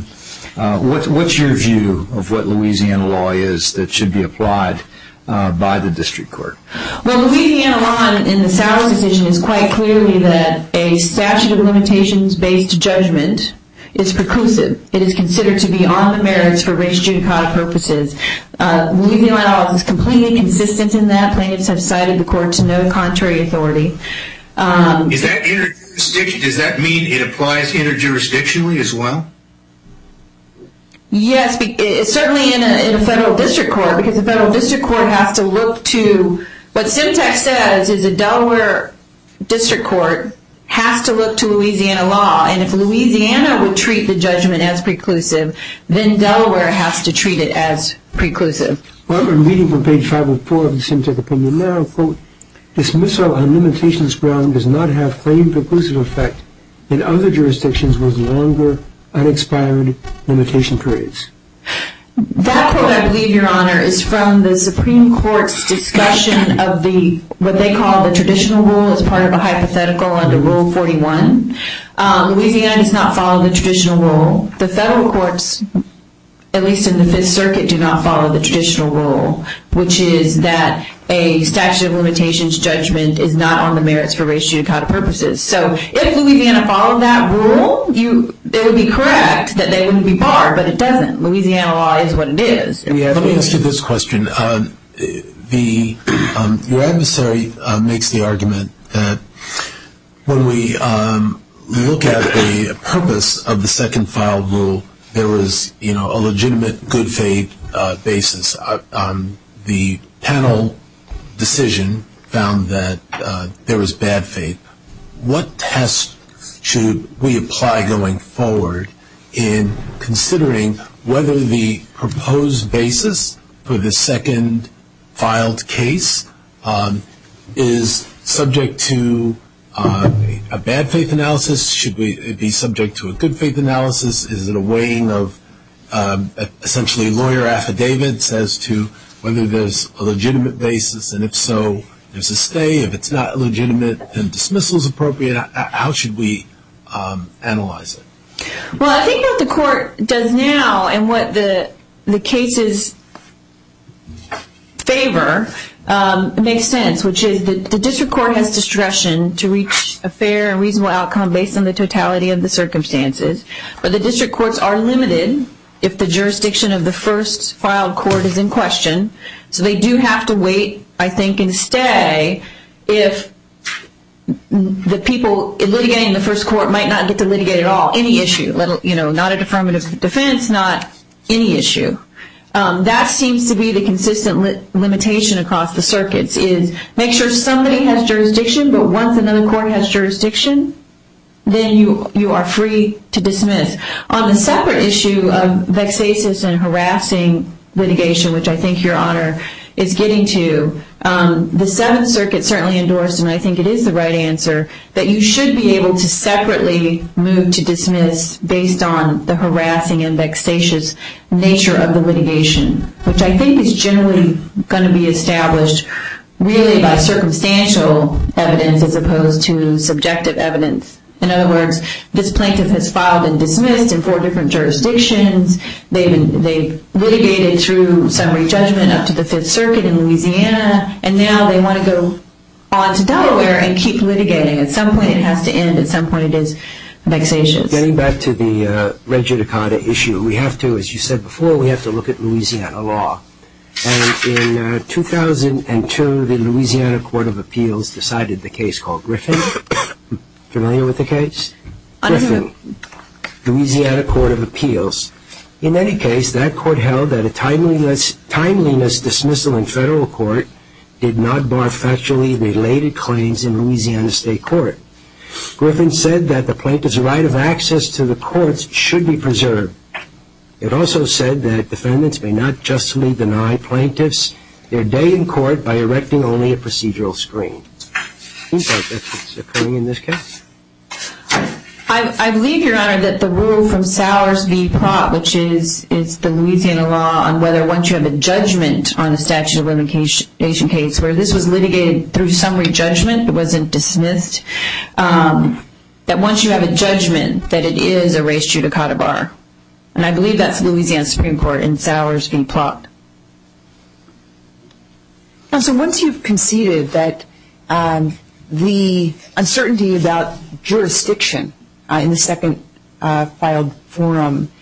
What's your view of what Louisiana law is that should be applied by the district court? Well, Louisiana law in the Sowers decision is quite clearly that a statute of limitations based judgment is preclusive. It is considered to be on the merits for res judicata purposes. Louisiana law is completely consistent in that. Plaintiffs have cited the court to no contrary authority. Does that mean it applies inter-jurisdictionally as well? Yes, certainly in a federal district court, because a federal district court has to look to, what SEMTAC says is a Delaware district court has to look to Louisiana law, and if Louisiana would treat the judgment as preclusive, then Delaware has to treat it as preclusive. I'm reading from page 504 of the SEMTAC opinion now, quote, dismissal on limitations ground does not have claimed preclusive effect in other jurisdictions with longer, unexpired limitation periods. That quote, I believe, Your Honor, is from the Supreme Court's discussion of the, what they call the traditional rule as part of a hypothetical under Rule 41. Louisiana does not follow the traditional rule. The federal courts, at least in the Fifth Circuit, do not follow the traditional rule, which is that a statute of limitations judgment is not on the merits for res judicata purposes. So if Louisiana followed that rule, it would be correct that they wouldn't be barred, but it doesn't. Louisiana law is what it is. Let me ask you this question. Your adversary makes the argument that when we look at the purpose of the second file rule, there was a legitimate good faith basis. The panel decision found that there was bad faith. What test should we apply going forward in considering whether the proposed basis for the second filed case is subject to a bad faith analysis? Should it be subject to a good faith analysis? Is it a weighing of essentially lawyer affidavits as to whether there's a legitimate basis, and if so, there's a stay. If it's not legitimate and dismissal is appropriate, how should we analyze it? Well, I think what the court does now and what the cases favor makes sense, which is the district court has discretion to reach a fair and reasonable outcome based on the totality of the circumstances. But the district courts are limited if the jurisdiction of the first filed court is in question. So they do have to wait, I think, and stay if the people litigating the first court might not get to litigate at all, any issue. Not a deferment of defense, not any issue. That seems to be the consistent limitation across the circuits is make sure somebody has jurisdiction, but once another court has jurisdiction, then you are free to dismiss. On the separate issue of vexatious and harassing litigation, which I think Your Honor is getting to, the Seventh Circuit certainly endorsed, and I think it is the right answer, that you should be able to separately move to dismiss based on the harassing and vexatious nature of the litigation, which I think is generally going to be established really by circumstantial evidence as opposed to subjective evidence. In other words, this plaintiff has filed and dismissed in four different jurisdictions. They litigated through summary judgment up to the Fifth Circuit in Louisiana, and now they want to go on to Delaware and keep litigating. At some point it has to end. At some point it is vexatious. Getting back to the regidicata issue, we have to, as you said before, we have to look at Louisiana law. In 2002, the Louisiana Court of Appeals decided the case called Griffin. Familiar with the case? Louisiana Court of Appeals. In any case, that court held that a timeliness dismissal in federal court did not bar factually related claims in Louisiana State Court. Griffin said that the plaintiff's right of access to the courts should be preserved. It also said that defendants may not justly deny plaintiffs their day in court by erecting only a procedural screen. Do you think that's what's occurring in this case? I believe, Your Honor, that the rule from Sowers v. Plott, which is the Louisiana law, on whether once you have a judgment on a statute of limitation case, where this was litigated through summary judgment, it wasn't dismissed, that once you have a judgment that it is a res judicata bar. And I believe that's Louisiana Supreme Court in Sowers v. Plott. So once you've conceded that the uncertainty about jurisdiction in the second filed forum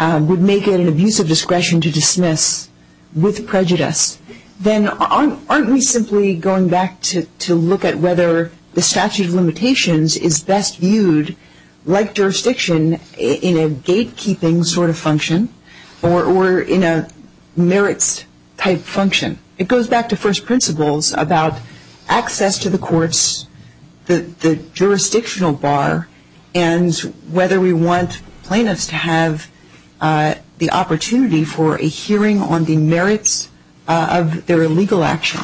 would make it an abuse of discretion to dismiss with prejudice, then aren't we simply going back to look at whether the statute of limitations is best viewed like jurisdiction in a gatekeeping sort of function or in a merits type function? It goes back to first principles about access to the courts, the jurisdictional bar, and whether we want plaintiffs to have the opportunity for a hearing on the merits of their illegal action.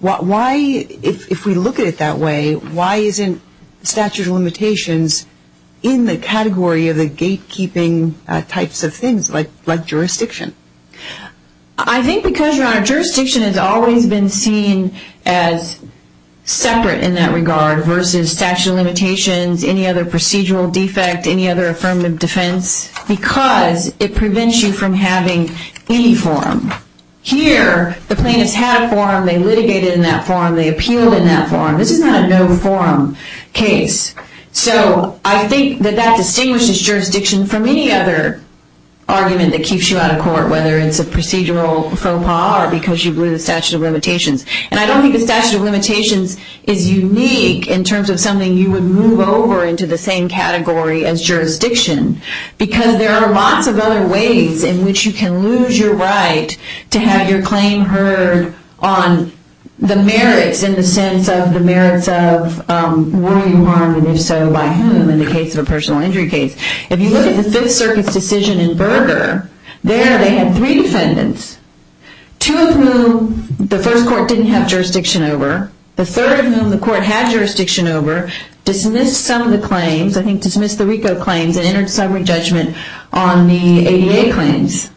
Why, if we look at it that way, why isn't statute of limitations in the category of the gatekeeping types of things like jurisdiction? I think because, Your Honor, jurisdiction has always been seen as separate in that regard versus statute of limitations, any other procedural defect, any other affirmative defense, because it prevents you from having any forum. Here, the plaintiffs had a forum, they litigated in that forum, they appealed in that forum. This is not a no-forum case. So I think that that distinguishes jurisdiction from any other argument that keeps you out of court, whether it's a procedural faux pas or because you blew the statute of limitations. And I don't think the statute of limitations is unique in terms of something you would move over into the same category as jurisdiction, because there are lots of other ways in which you can lose your right to have your claim heard on the merits, in the sense of the merits of were you harmed, and if so, by whom, in the case of a personal injury case. If you look at the Fifth Circuit's decision in Berger, there they had three defendants, two of whom the first court didn't have jurisdiction over, the third of whom the court had jurisdiction over, dismissed some of the claims, I think dismissed the RICO claims, and entered summary judgment on the ADA claims.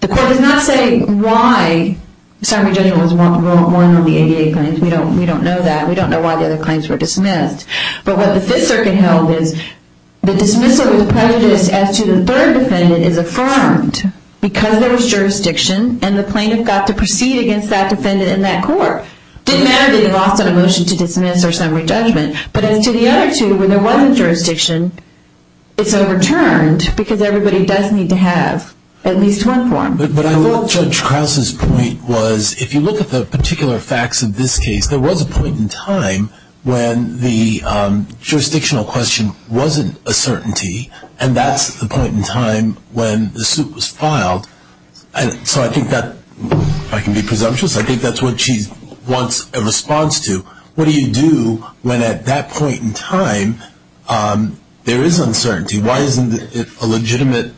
The court does not say why summary judgment was won on the ADA claims. We don't know that. We don't know why the other claims were dismissed. But what the Fifth Circuit held is the dismissal was prejudiced as to the third defendant is affirmed because there was jurisdiction, and the plaintiff got to proceed against that defendant in that court. It didn't matter that they lost on a motion to dismiss or summary judgment, but as to the other two, when there wasn't jurisdiction, it's overturned, because everybody does need to have at least one form. But I thought Judge Krause's point was, if you look at the particular facts of this case, there was a point in time when the jurisdictional question wasn't a certainty, and that's the point in time when the suit was filed. So I think that, if I can be presumptuous, I think that's what she wants a response to. What do you do when at that point in time there is uncertainty? Why isn't it a legitimate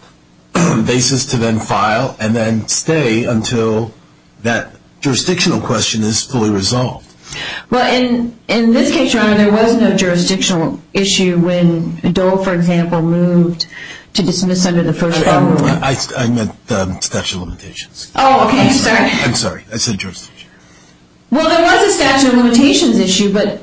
basis to then file and then stay until that jurisdictional question is fully resolved? Well, in this case, Your Honor, there was no jurisdictional issue when Dole, for example, moved to dismiss under the First Amendment. I meant the statute of limitations. Oh, okay. I'm sorry. I'm sorry. I said jurisdiction. Well, there was a statute of limitations issue, but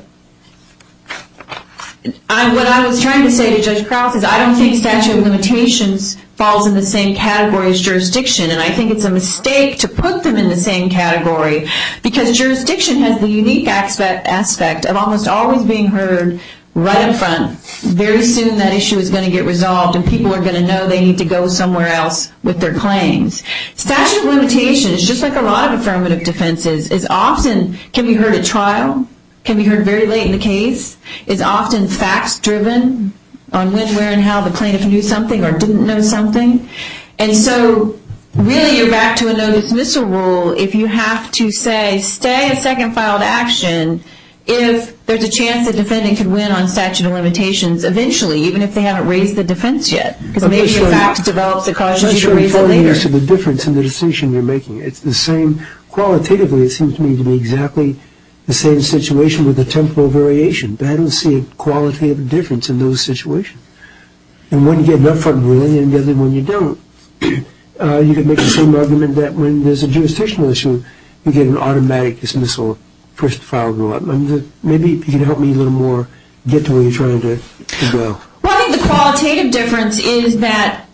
what I was trying to say to Judge Krause is I don't think statute of limitations falls in the same category as jurisdiction, and I think it's a mistake to put them in the same category, because jurisdiction has the unique aspect of almost always being heard right up front. Very soon that issue is going to get resolved, and people are going to know they need to go somewhere else with their claims. Statute of limitations, just like a lot of affirmative defenses, is often can be heard at trial, can be heard very late in the case, is often facts-driven on when, where, and how the plaintiff knew something or didn't know something, and so really you're back to a no dismissal rule if you have to say stay a second file of action if there's a chance the defendant could win on statute of limitations eventually, even if they haven't raised the defense yet, because maybe a fact develops that causes you to raise it later. I'm not sure I'm following the answer to the difference in the decision you're making. It's the same, qualitatively it seems to me to be exactly the same situation with a temporal variation, but I don't see a qualitative difference in those situations, and when you get it up front with anyone and when you don't, you can make the same argument that when there's a jurisdictional issue, you get an automatic dismissal, first file rule. Maybe you can help me a little more get to where you're trying to go. Well, I think the qualitative difference is that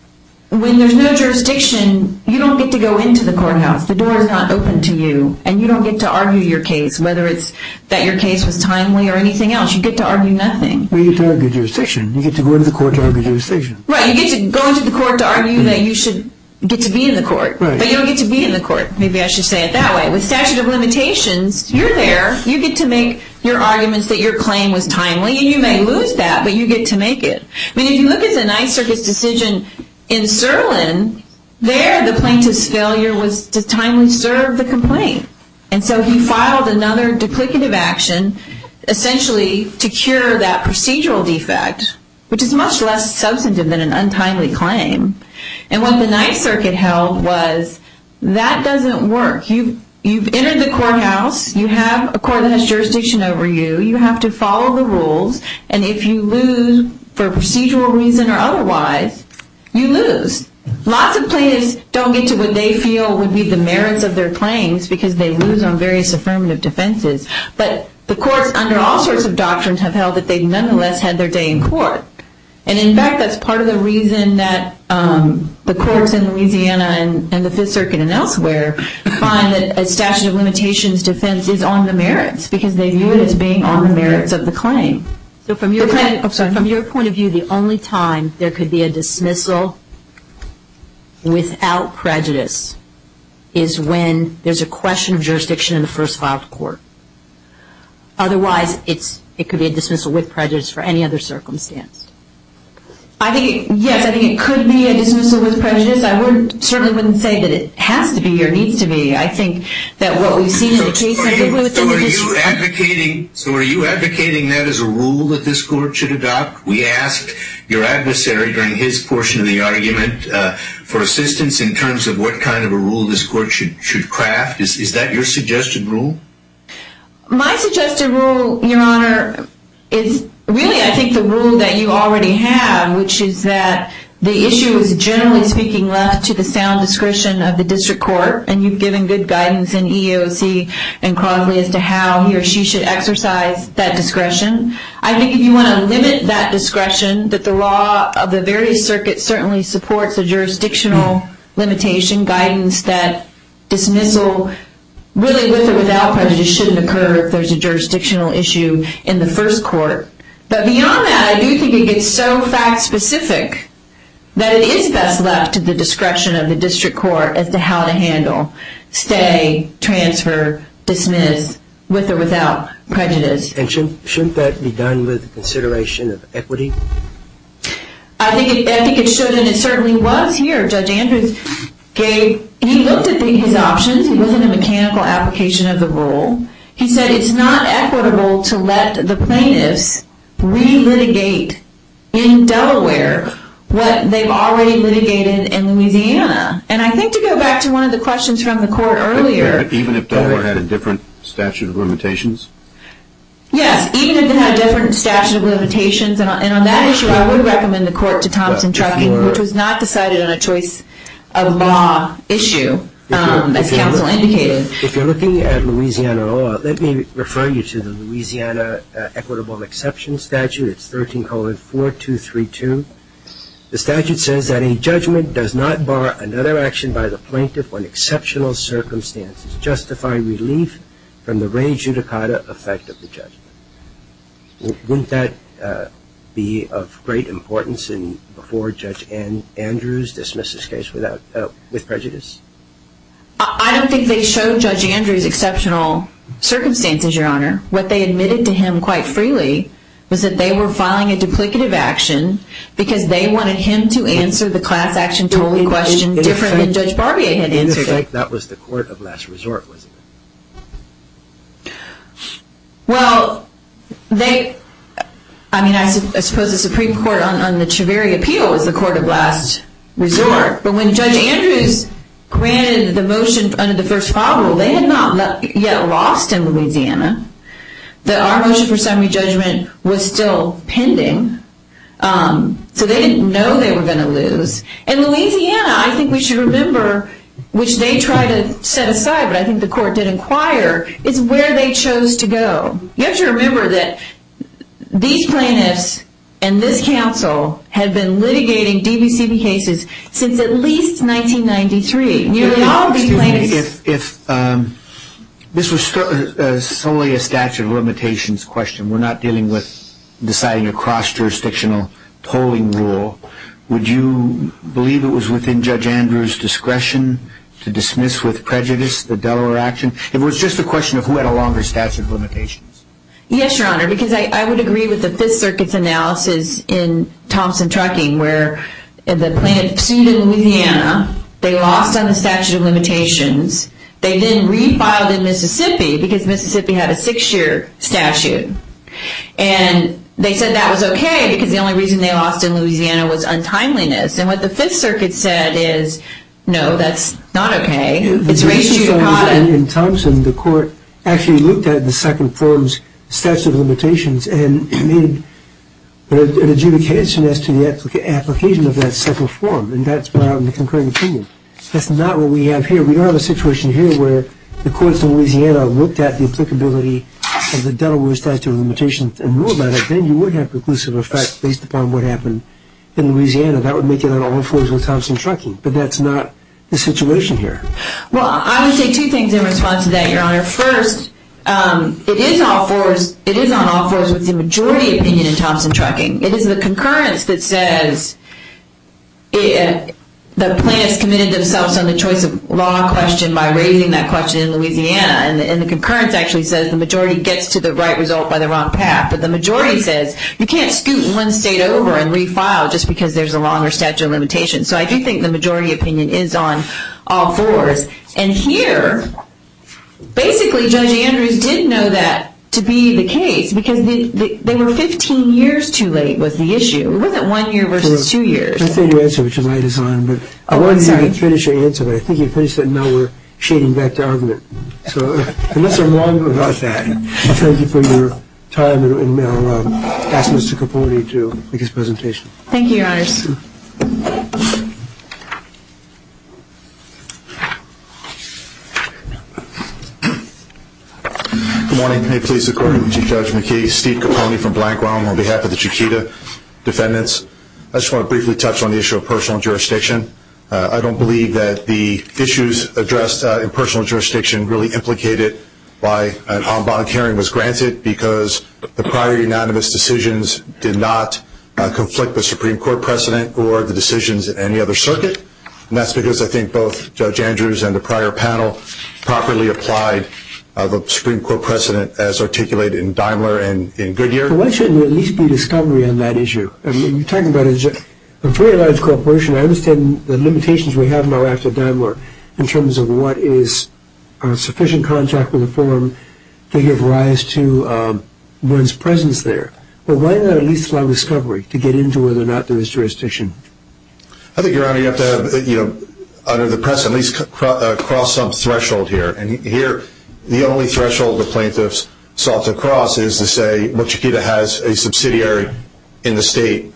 when there's no jurisdiction, you don't get to go into the courthouse. The door is not open to you, and you don't get to argue your case, whether it's that your case was timely or anything else. You get to argue nothing. Well, you get to argue jurisdiction. You get to go into the court to argue jurisdiction. Right, you get to go into the court to argue that you should get to be in the court, but you don't get to be in the court. Maybe I should say it that way. With statute of limitations, you're there. You get to make your arguments that your claim was timely, and you may lose that, but you get to make it. I mean, if you look at the Ninth Circuit's decision in Sirlin, there the plaintiff's failure was to timely serve the complaint, and so he filed another duplicative action, essentially to cure that procedural defect, which is much less substantive than an untimely claim, and what the Ninth Circuit held was that doesn't work. You've entered the courthouse. You have a court that has jurisdiction over you. You have to follow the rules, and if you lose for procedural reason or otherwise, you lose. Lots of plaintiffs don't get to what they feel would be the merits of their claims because they lose on various affirmative defenses, but the courts, under all sorts of doctrines, have held that they've nonetheless had their day in court, and in fact, that's part of the reason that the courts in Louisiana and the Fifth Circuit and elsewhere find that a statute of limitations defense is on the merits because they view it as being on the merits of the claim. So from your point of view, the only time there could be a dismissal without prejudice is when there's a question of jurisdiction in the first filed court. Otherwise, it could be a dismissal with prejudice for any other circumstance. I think, yes, I think it could be a dismissal with prejudice. I certainly wouldn't say that it has to be or needs to be. I think that what we've seen in the case of the Ninth Circuit... So are you advocating that as a rule that this court should adopt? We asked your adversary during his portion of the argument for assistance in terms of what kind of a rule this court should craft. Is that your suggested rule? My suggested rule, Your Honor, is really, I think, the rule that you already have, which is that the issue is generally speaking left to the sound discretion of the district court, and you've given good guidance in EEOC and Crosley as to how he or she should exercise that discretion. I think if you want to limit that discretion, that the law of the very circuit certainly supports a jurisdictional limitation, guidance that dismissal really with or without prejudice shouldn't occur if there's a jurisdictional issue in the first court. But beyond that, I do think it gets so fact-specific that it is best left to the discretion of the district court as to how to handle stay, transfer, dismiss with or without prejudice. And shouldn't that be done with consideration of equity? I think it should, and it certainly was here. Judge Andrews looked at his options. He wasn't a mechanical application of the rule. He said it's not equitable to let the plaintiffs relitigate in Delaware what they've already litigated in Louisiana. And I think to go back to one of the questions from the court earlier... Even if Delaware had a different statute of limitations? Yes, even if they had a different statute of limitations, and on that issue I would recommend the court to Thompson-Truckin, which was not decided on a choice of law issue, as counsel indicated. If you're looking at Louisiana law, let me refer you to the Louisiana Equitable Exception Statute. It's 13-4232. The statute says that a judgment does not bar another action by the plaintiff when exceptional circumstances justify relief from the re judicata effect of the judgment. Wouldn't that be of great importance before Judge Andrews dismissed his case with prejudice? I don't think they showed Judge Andrews exceptional circumstances, Your Honor. What they admitted to him quite freely was that they were filing a duplicative action because they wanted him to answer the class action totally question different than Judge Barbier had answered. That was the court of last resort, wasn't it? Well, they... I mean, I suppose the Supreme Court on the Treveri Appeal was the court of last resort, but when Judge Andrews granted the motion under the first file rule, they had not yet lost in Louisiana. Our motion for summary judgment was still pending, so they didn't know they were going to lose. In Louisiana, I think we should remember, which they tried to set aside, but I think the court did inquire, it's where they chose to go. You have to remember that these plaintiffs and this council have been litigating DVCB cases since at least 1993. Excuse me. If this was solely a statute of limitations question, we're not dealing with deciding a cross-jurisdictional tolling rule, would you believe it was within Judge Andrews' discretion to dismiss with prejudice the Delaware action? It was just a question of who had a longer statute of limitations. Yes, Your Honor, because I would agree with the Fifth Circuit's analysis in Thompson Trucking, where the plaintiff sued in Louisiana, they lost on the statute of limitations, they then refiled in Mississippi, because Mississippi had a six-year statute. And they said that was okay, because the only reason they lost in Louisiana was untimeliness. And what the Fifth Circuit said is, no, that's not okay. In Thompson, the court actually looked at the second form's statute of limitations and made an adjudication as to the application of that second form, and that's brought out in the concurring opinion. That's not what we have here. We don't have a situation here where the courts in Louisiana looked at the applicability of the Delaware statute of limitations and knew about it, then you would have conclusive effect based upon what happened in Louisiana. That would make it on all fours with Thompson Trucking. But that's not the situation here. Well, I would say two things in response to that, Your Honor. First, it is on all fours with the majority opinion in Thompson Trucking. It is the concurrence that says the plaintiffs committed themselves on the choice of law question by raising that question in Louisiana, and the concurrence actually says the majority gets to the right result by the wrong path. But the majority says you can't scoot one state over and refile just because there's a longer statute of limitations. So I do think the majority opinion is on all fours. And here, basically, Judge Andrews did know that to be the case because they were 15 years too late was the issue. It wasn't one year versus two years. I think your answer, which is why it is on, but I wanted you to finish your answer, but I think you finished it and now we're shading back to argument. So unless I'm wrong about that, thank you for your time, and I'll ask Mr. Capote to make his presentation. Thank you, Your Honors. Good morning. May it please the Court, Judge McKee. Steve Capone from Black Realm on behalf of the Chiquita defendants. I just want to briefly touch on the issue of personal jurisdiction. I don't believe that the issues addressed in personal jurisdiction really implicated why an en banc hearing was granted, because the prior unanimous decisions did not conflict the Supreme Court precedent or the decisions in any other circuit. And that's because I think both Judge Andrews and the prior panel properly applied the Supreme Court precedent as articulated in Daimler and in Goodyear. Why shouldn't there at least be discovery on that issue? I mean, you're talking about a very large corporation. I understand the limitations we have in our Act of Daimler in terms of what is sufficient contract with a firm to give rise to one's presence there. But why not at least allow discovery to get into whether or not there is jurisdiction? I think, Your Honor, you have to have, under the precedent, at least cross some threshold here. And here the only threshold the plaintiffs sought to cross is to say, well, Chiquita has a subsidiary in the state,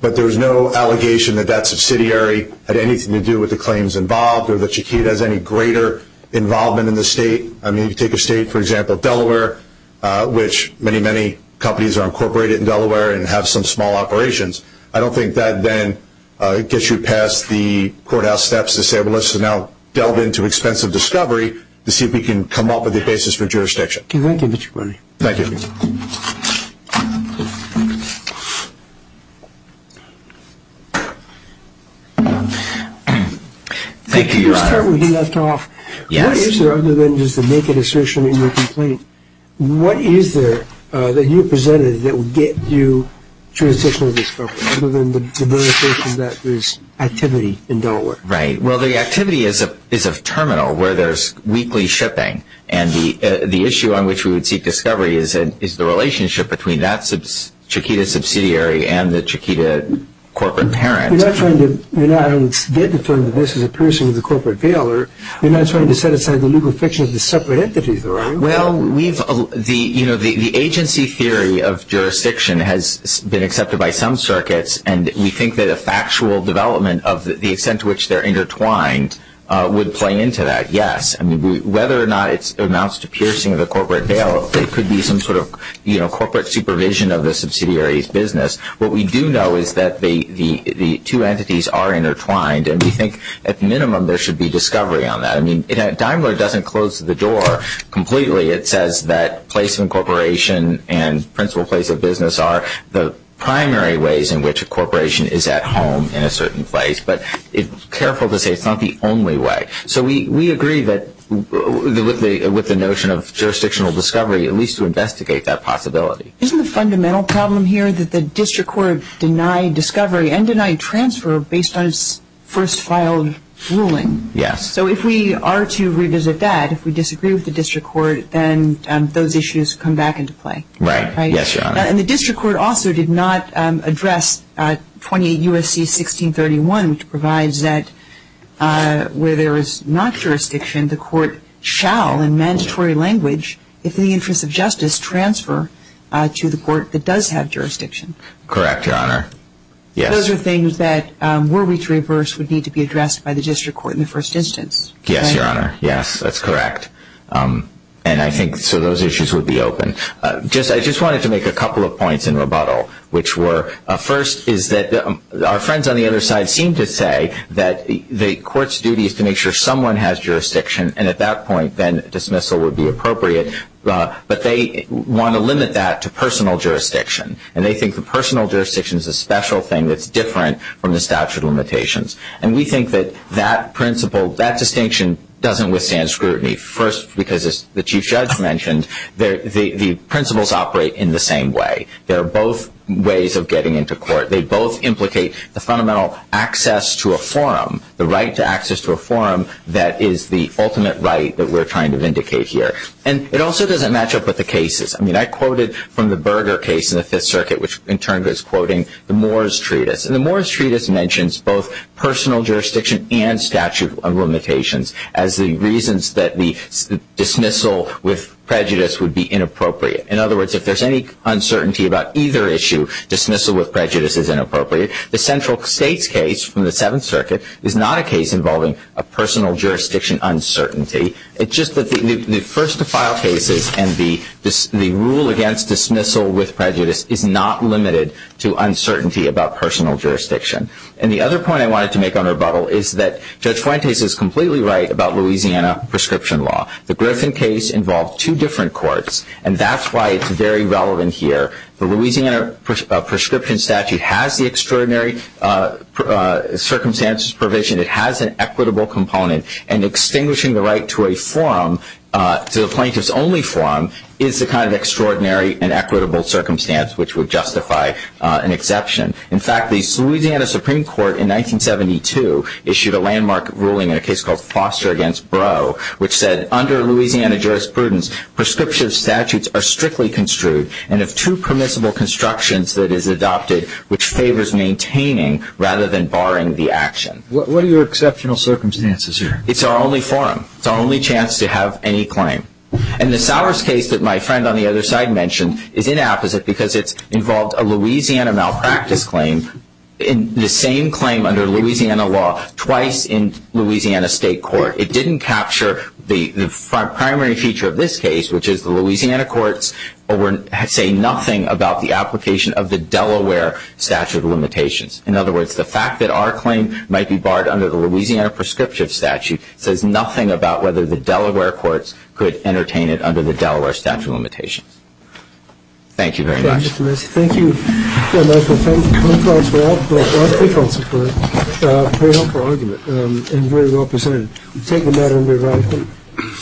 but there's no allegation that that subsidiary had anything to do with the claims involved or that Chiquita has any greater involvement in the state. I mean, if you take a state, for example, Delaware, which many, many companies are incorporated in Delaware and have some small operations, I don't think that then gets you past the courthouse steps to say, well, let's now delve into expense of discovery to see if we can come up with a basis for jurisdiction. Thank you, Mr. Carney. Thank you. Thank you, Your Honor. Let's start where you left off. Yes. What is there, other than just a naked assertion in your complaint, what is there that you presented that will get you jurisdictional discovery, other than the verifications that there's activity in Delaware? Right. Well, the activity is a terminal where there's weekly shipping. And the issue on which we would seek discovery is the relationship between that Chiquita subsidiary and the Chiquita corporate parent. We're not trying to get to the point that this is a piercing of the corporate bailer. We're not trying to set aside the legal friction of the separate entities, are we? Well, the agency theory of jurisdiction has been accepted by some circuits, and we think that a factual development of the extent to which they're intertwined would play into that. Yes. I mean, whether or not it amounts to piercing of the corporate bailer, what we do know is that the two entities are intertwined, and we think at minimum there should be discovery on that. I mean, Daimler doesn't close the door completely. It says that placement corporation and principal place of business are the primary ways in which a corporation is at home in a certain place, but careful to say it's not the only way. So we agree with the notion of jurisdictional discovery, at least to investigate that possibility. Isn't the fundamental problem here that the district court denied discovery and denied transfer based on its first filed ruling? Yes. So if we are to revisit that, if we disagree with the district court, then those issues come back into play. Right. Yes, Your Honor. And the district court also did not address 28 U.S.C. 1631, which provides that where there is not jurisdiction, the court shall in mandatory language, if in the interest of justice, transfer to the court that does have jurisdiction. Correct, Your Honor. Yes. Those are things that were we to reverse would need to be addressed by the district court in the first instance. Yes, Your Honor. Yes, that's correct. And I think so those issues would be open. I just wanted to make a couple of points in rebuttal, which were, first is that our friends on the other side seem to say that the court's duty is to make sure someone has jurisdiction, and at that point, then dismissal would be appropriate. But they want to limit that to personal jurisdiction, and they think the personal jurisdiction is a special thing that's different from the statute of limitations. And we think that that principle, that distinction doesn't withstand scrutiny, first because, as the Chief Judge mentioned, the principles operate in the same way. There are both ways of getting into court. They both implicate the fundamental access to a forum, the right to access to a forum that is the ultimate right that we're trying to vindicate here. And it also doesn't match up with the cases. I mean, I quoted from the Berger case in the Fifth Circuit, which in turn was quoting the Moore's Treatise. And the Moore's Treatise mentions both personal jurisdiction and statute of limitations as the reasons that the dismissal with prejudice would be inappropriate. In other words, if there's any uncertainty about either issue, dismissal with prejudice is inappropriate. The Central States case from the Seventh Circuit is not a case involving a personal jurisdiction uncertainty. It's just that the first to file cases and the rule against dismissal with prejudice is not limited to uncertainty about personal jurisdiction. And the other point I wanted to make on rebuttal is that Judge Fuentes is completely right about Louisiana prescription law. The Griffin case involved two different courts, and that's why it's very relevant here. The Louisiana prescription statute has the extraordinary circumstances provision. It has an equitable component. And extinguishing the right to a forum, to the plaintiff's only forum, is the kind of extraordinary and equitable circumstance which would justify an exception. In fact, the Louisiana Supreme Court in 1972 issued a landmark ruling in a case called Foster v. Brough, which said under Louisiana jurisprudence, prescription statutes are strictly construed, and have two permissible constructions that is adopted, which favors maintaining rather than barring the action. What are your exceptional circumstances here? It's our only forum. It's our only chance to have any claim. And the Sowers case that my friend on the other side mentioned is inapposite because it's involved a Louisiana malpractice claim, and the same claim under Louisiana law twice in Louisiana state court. It didn't capture the primary feature of this case, which is the Louisiana courts say nothing about the application of the Delaware statute of limitations. In other words, the fact that our claim might be barred under the Louisiana prescriptive statute says nothing about whether the Delaware courts could entertain it under the Delaware statute of limitations. Thank you very much. Thank you. Thank you. A pretty helpful argument and very well presented. We'll take the matter under writings.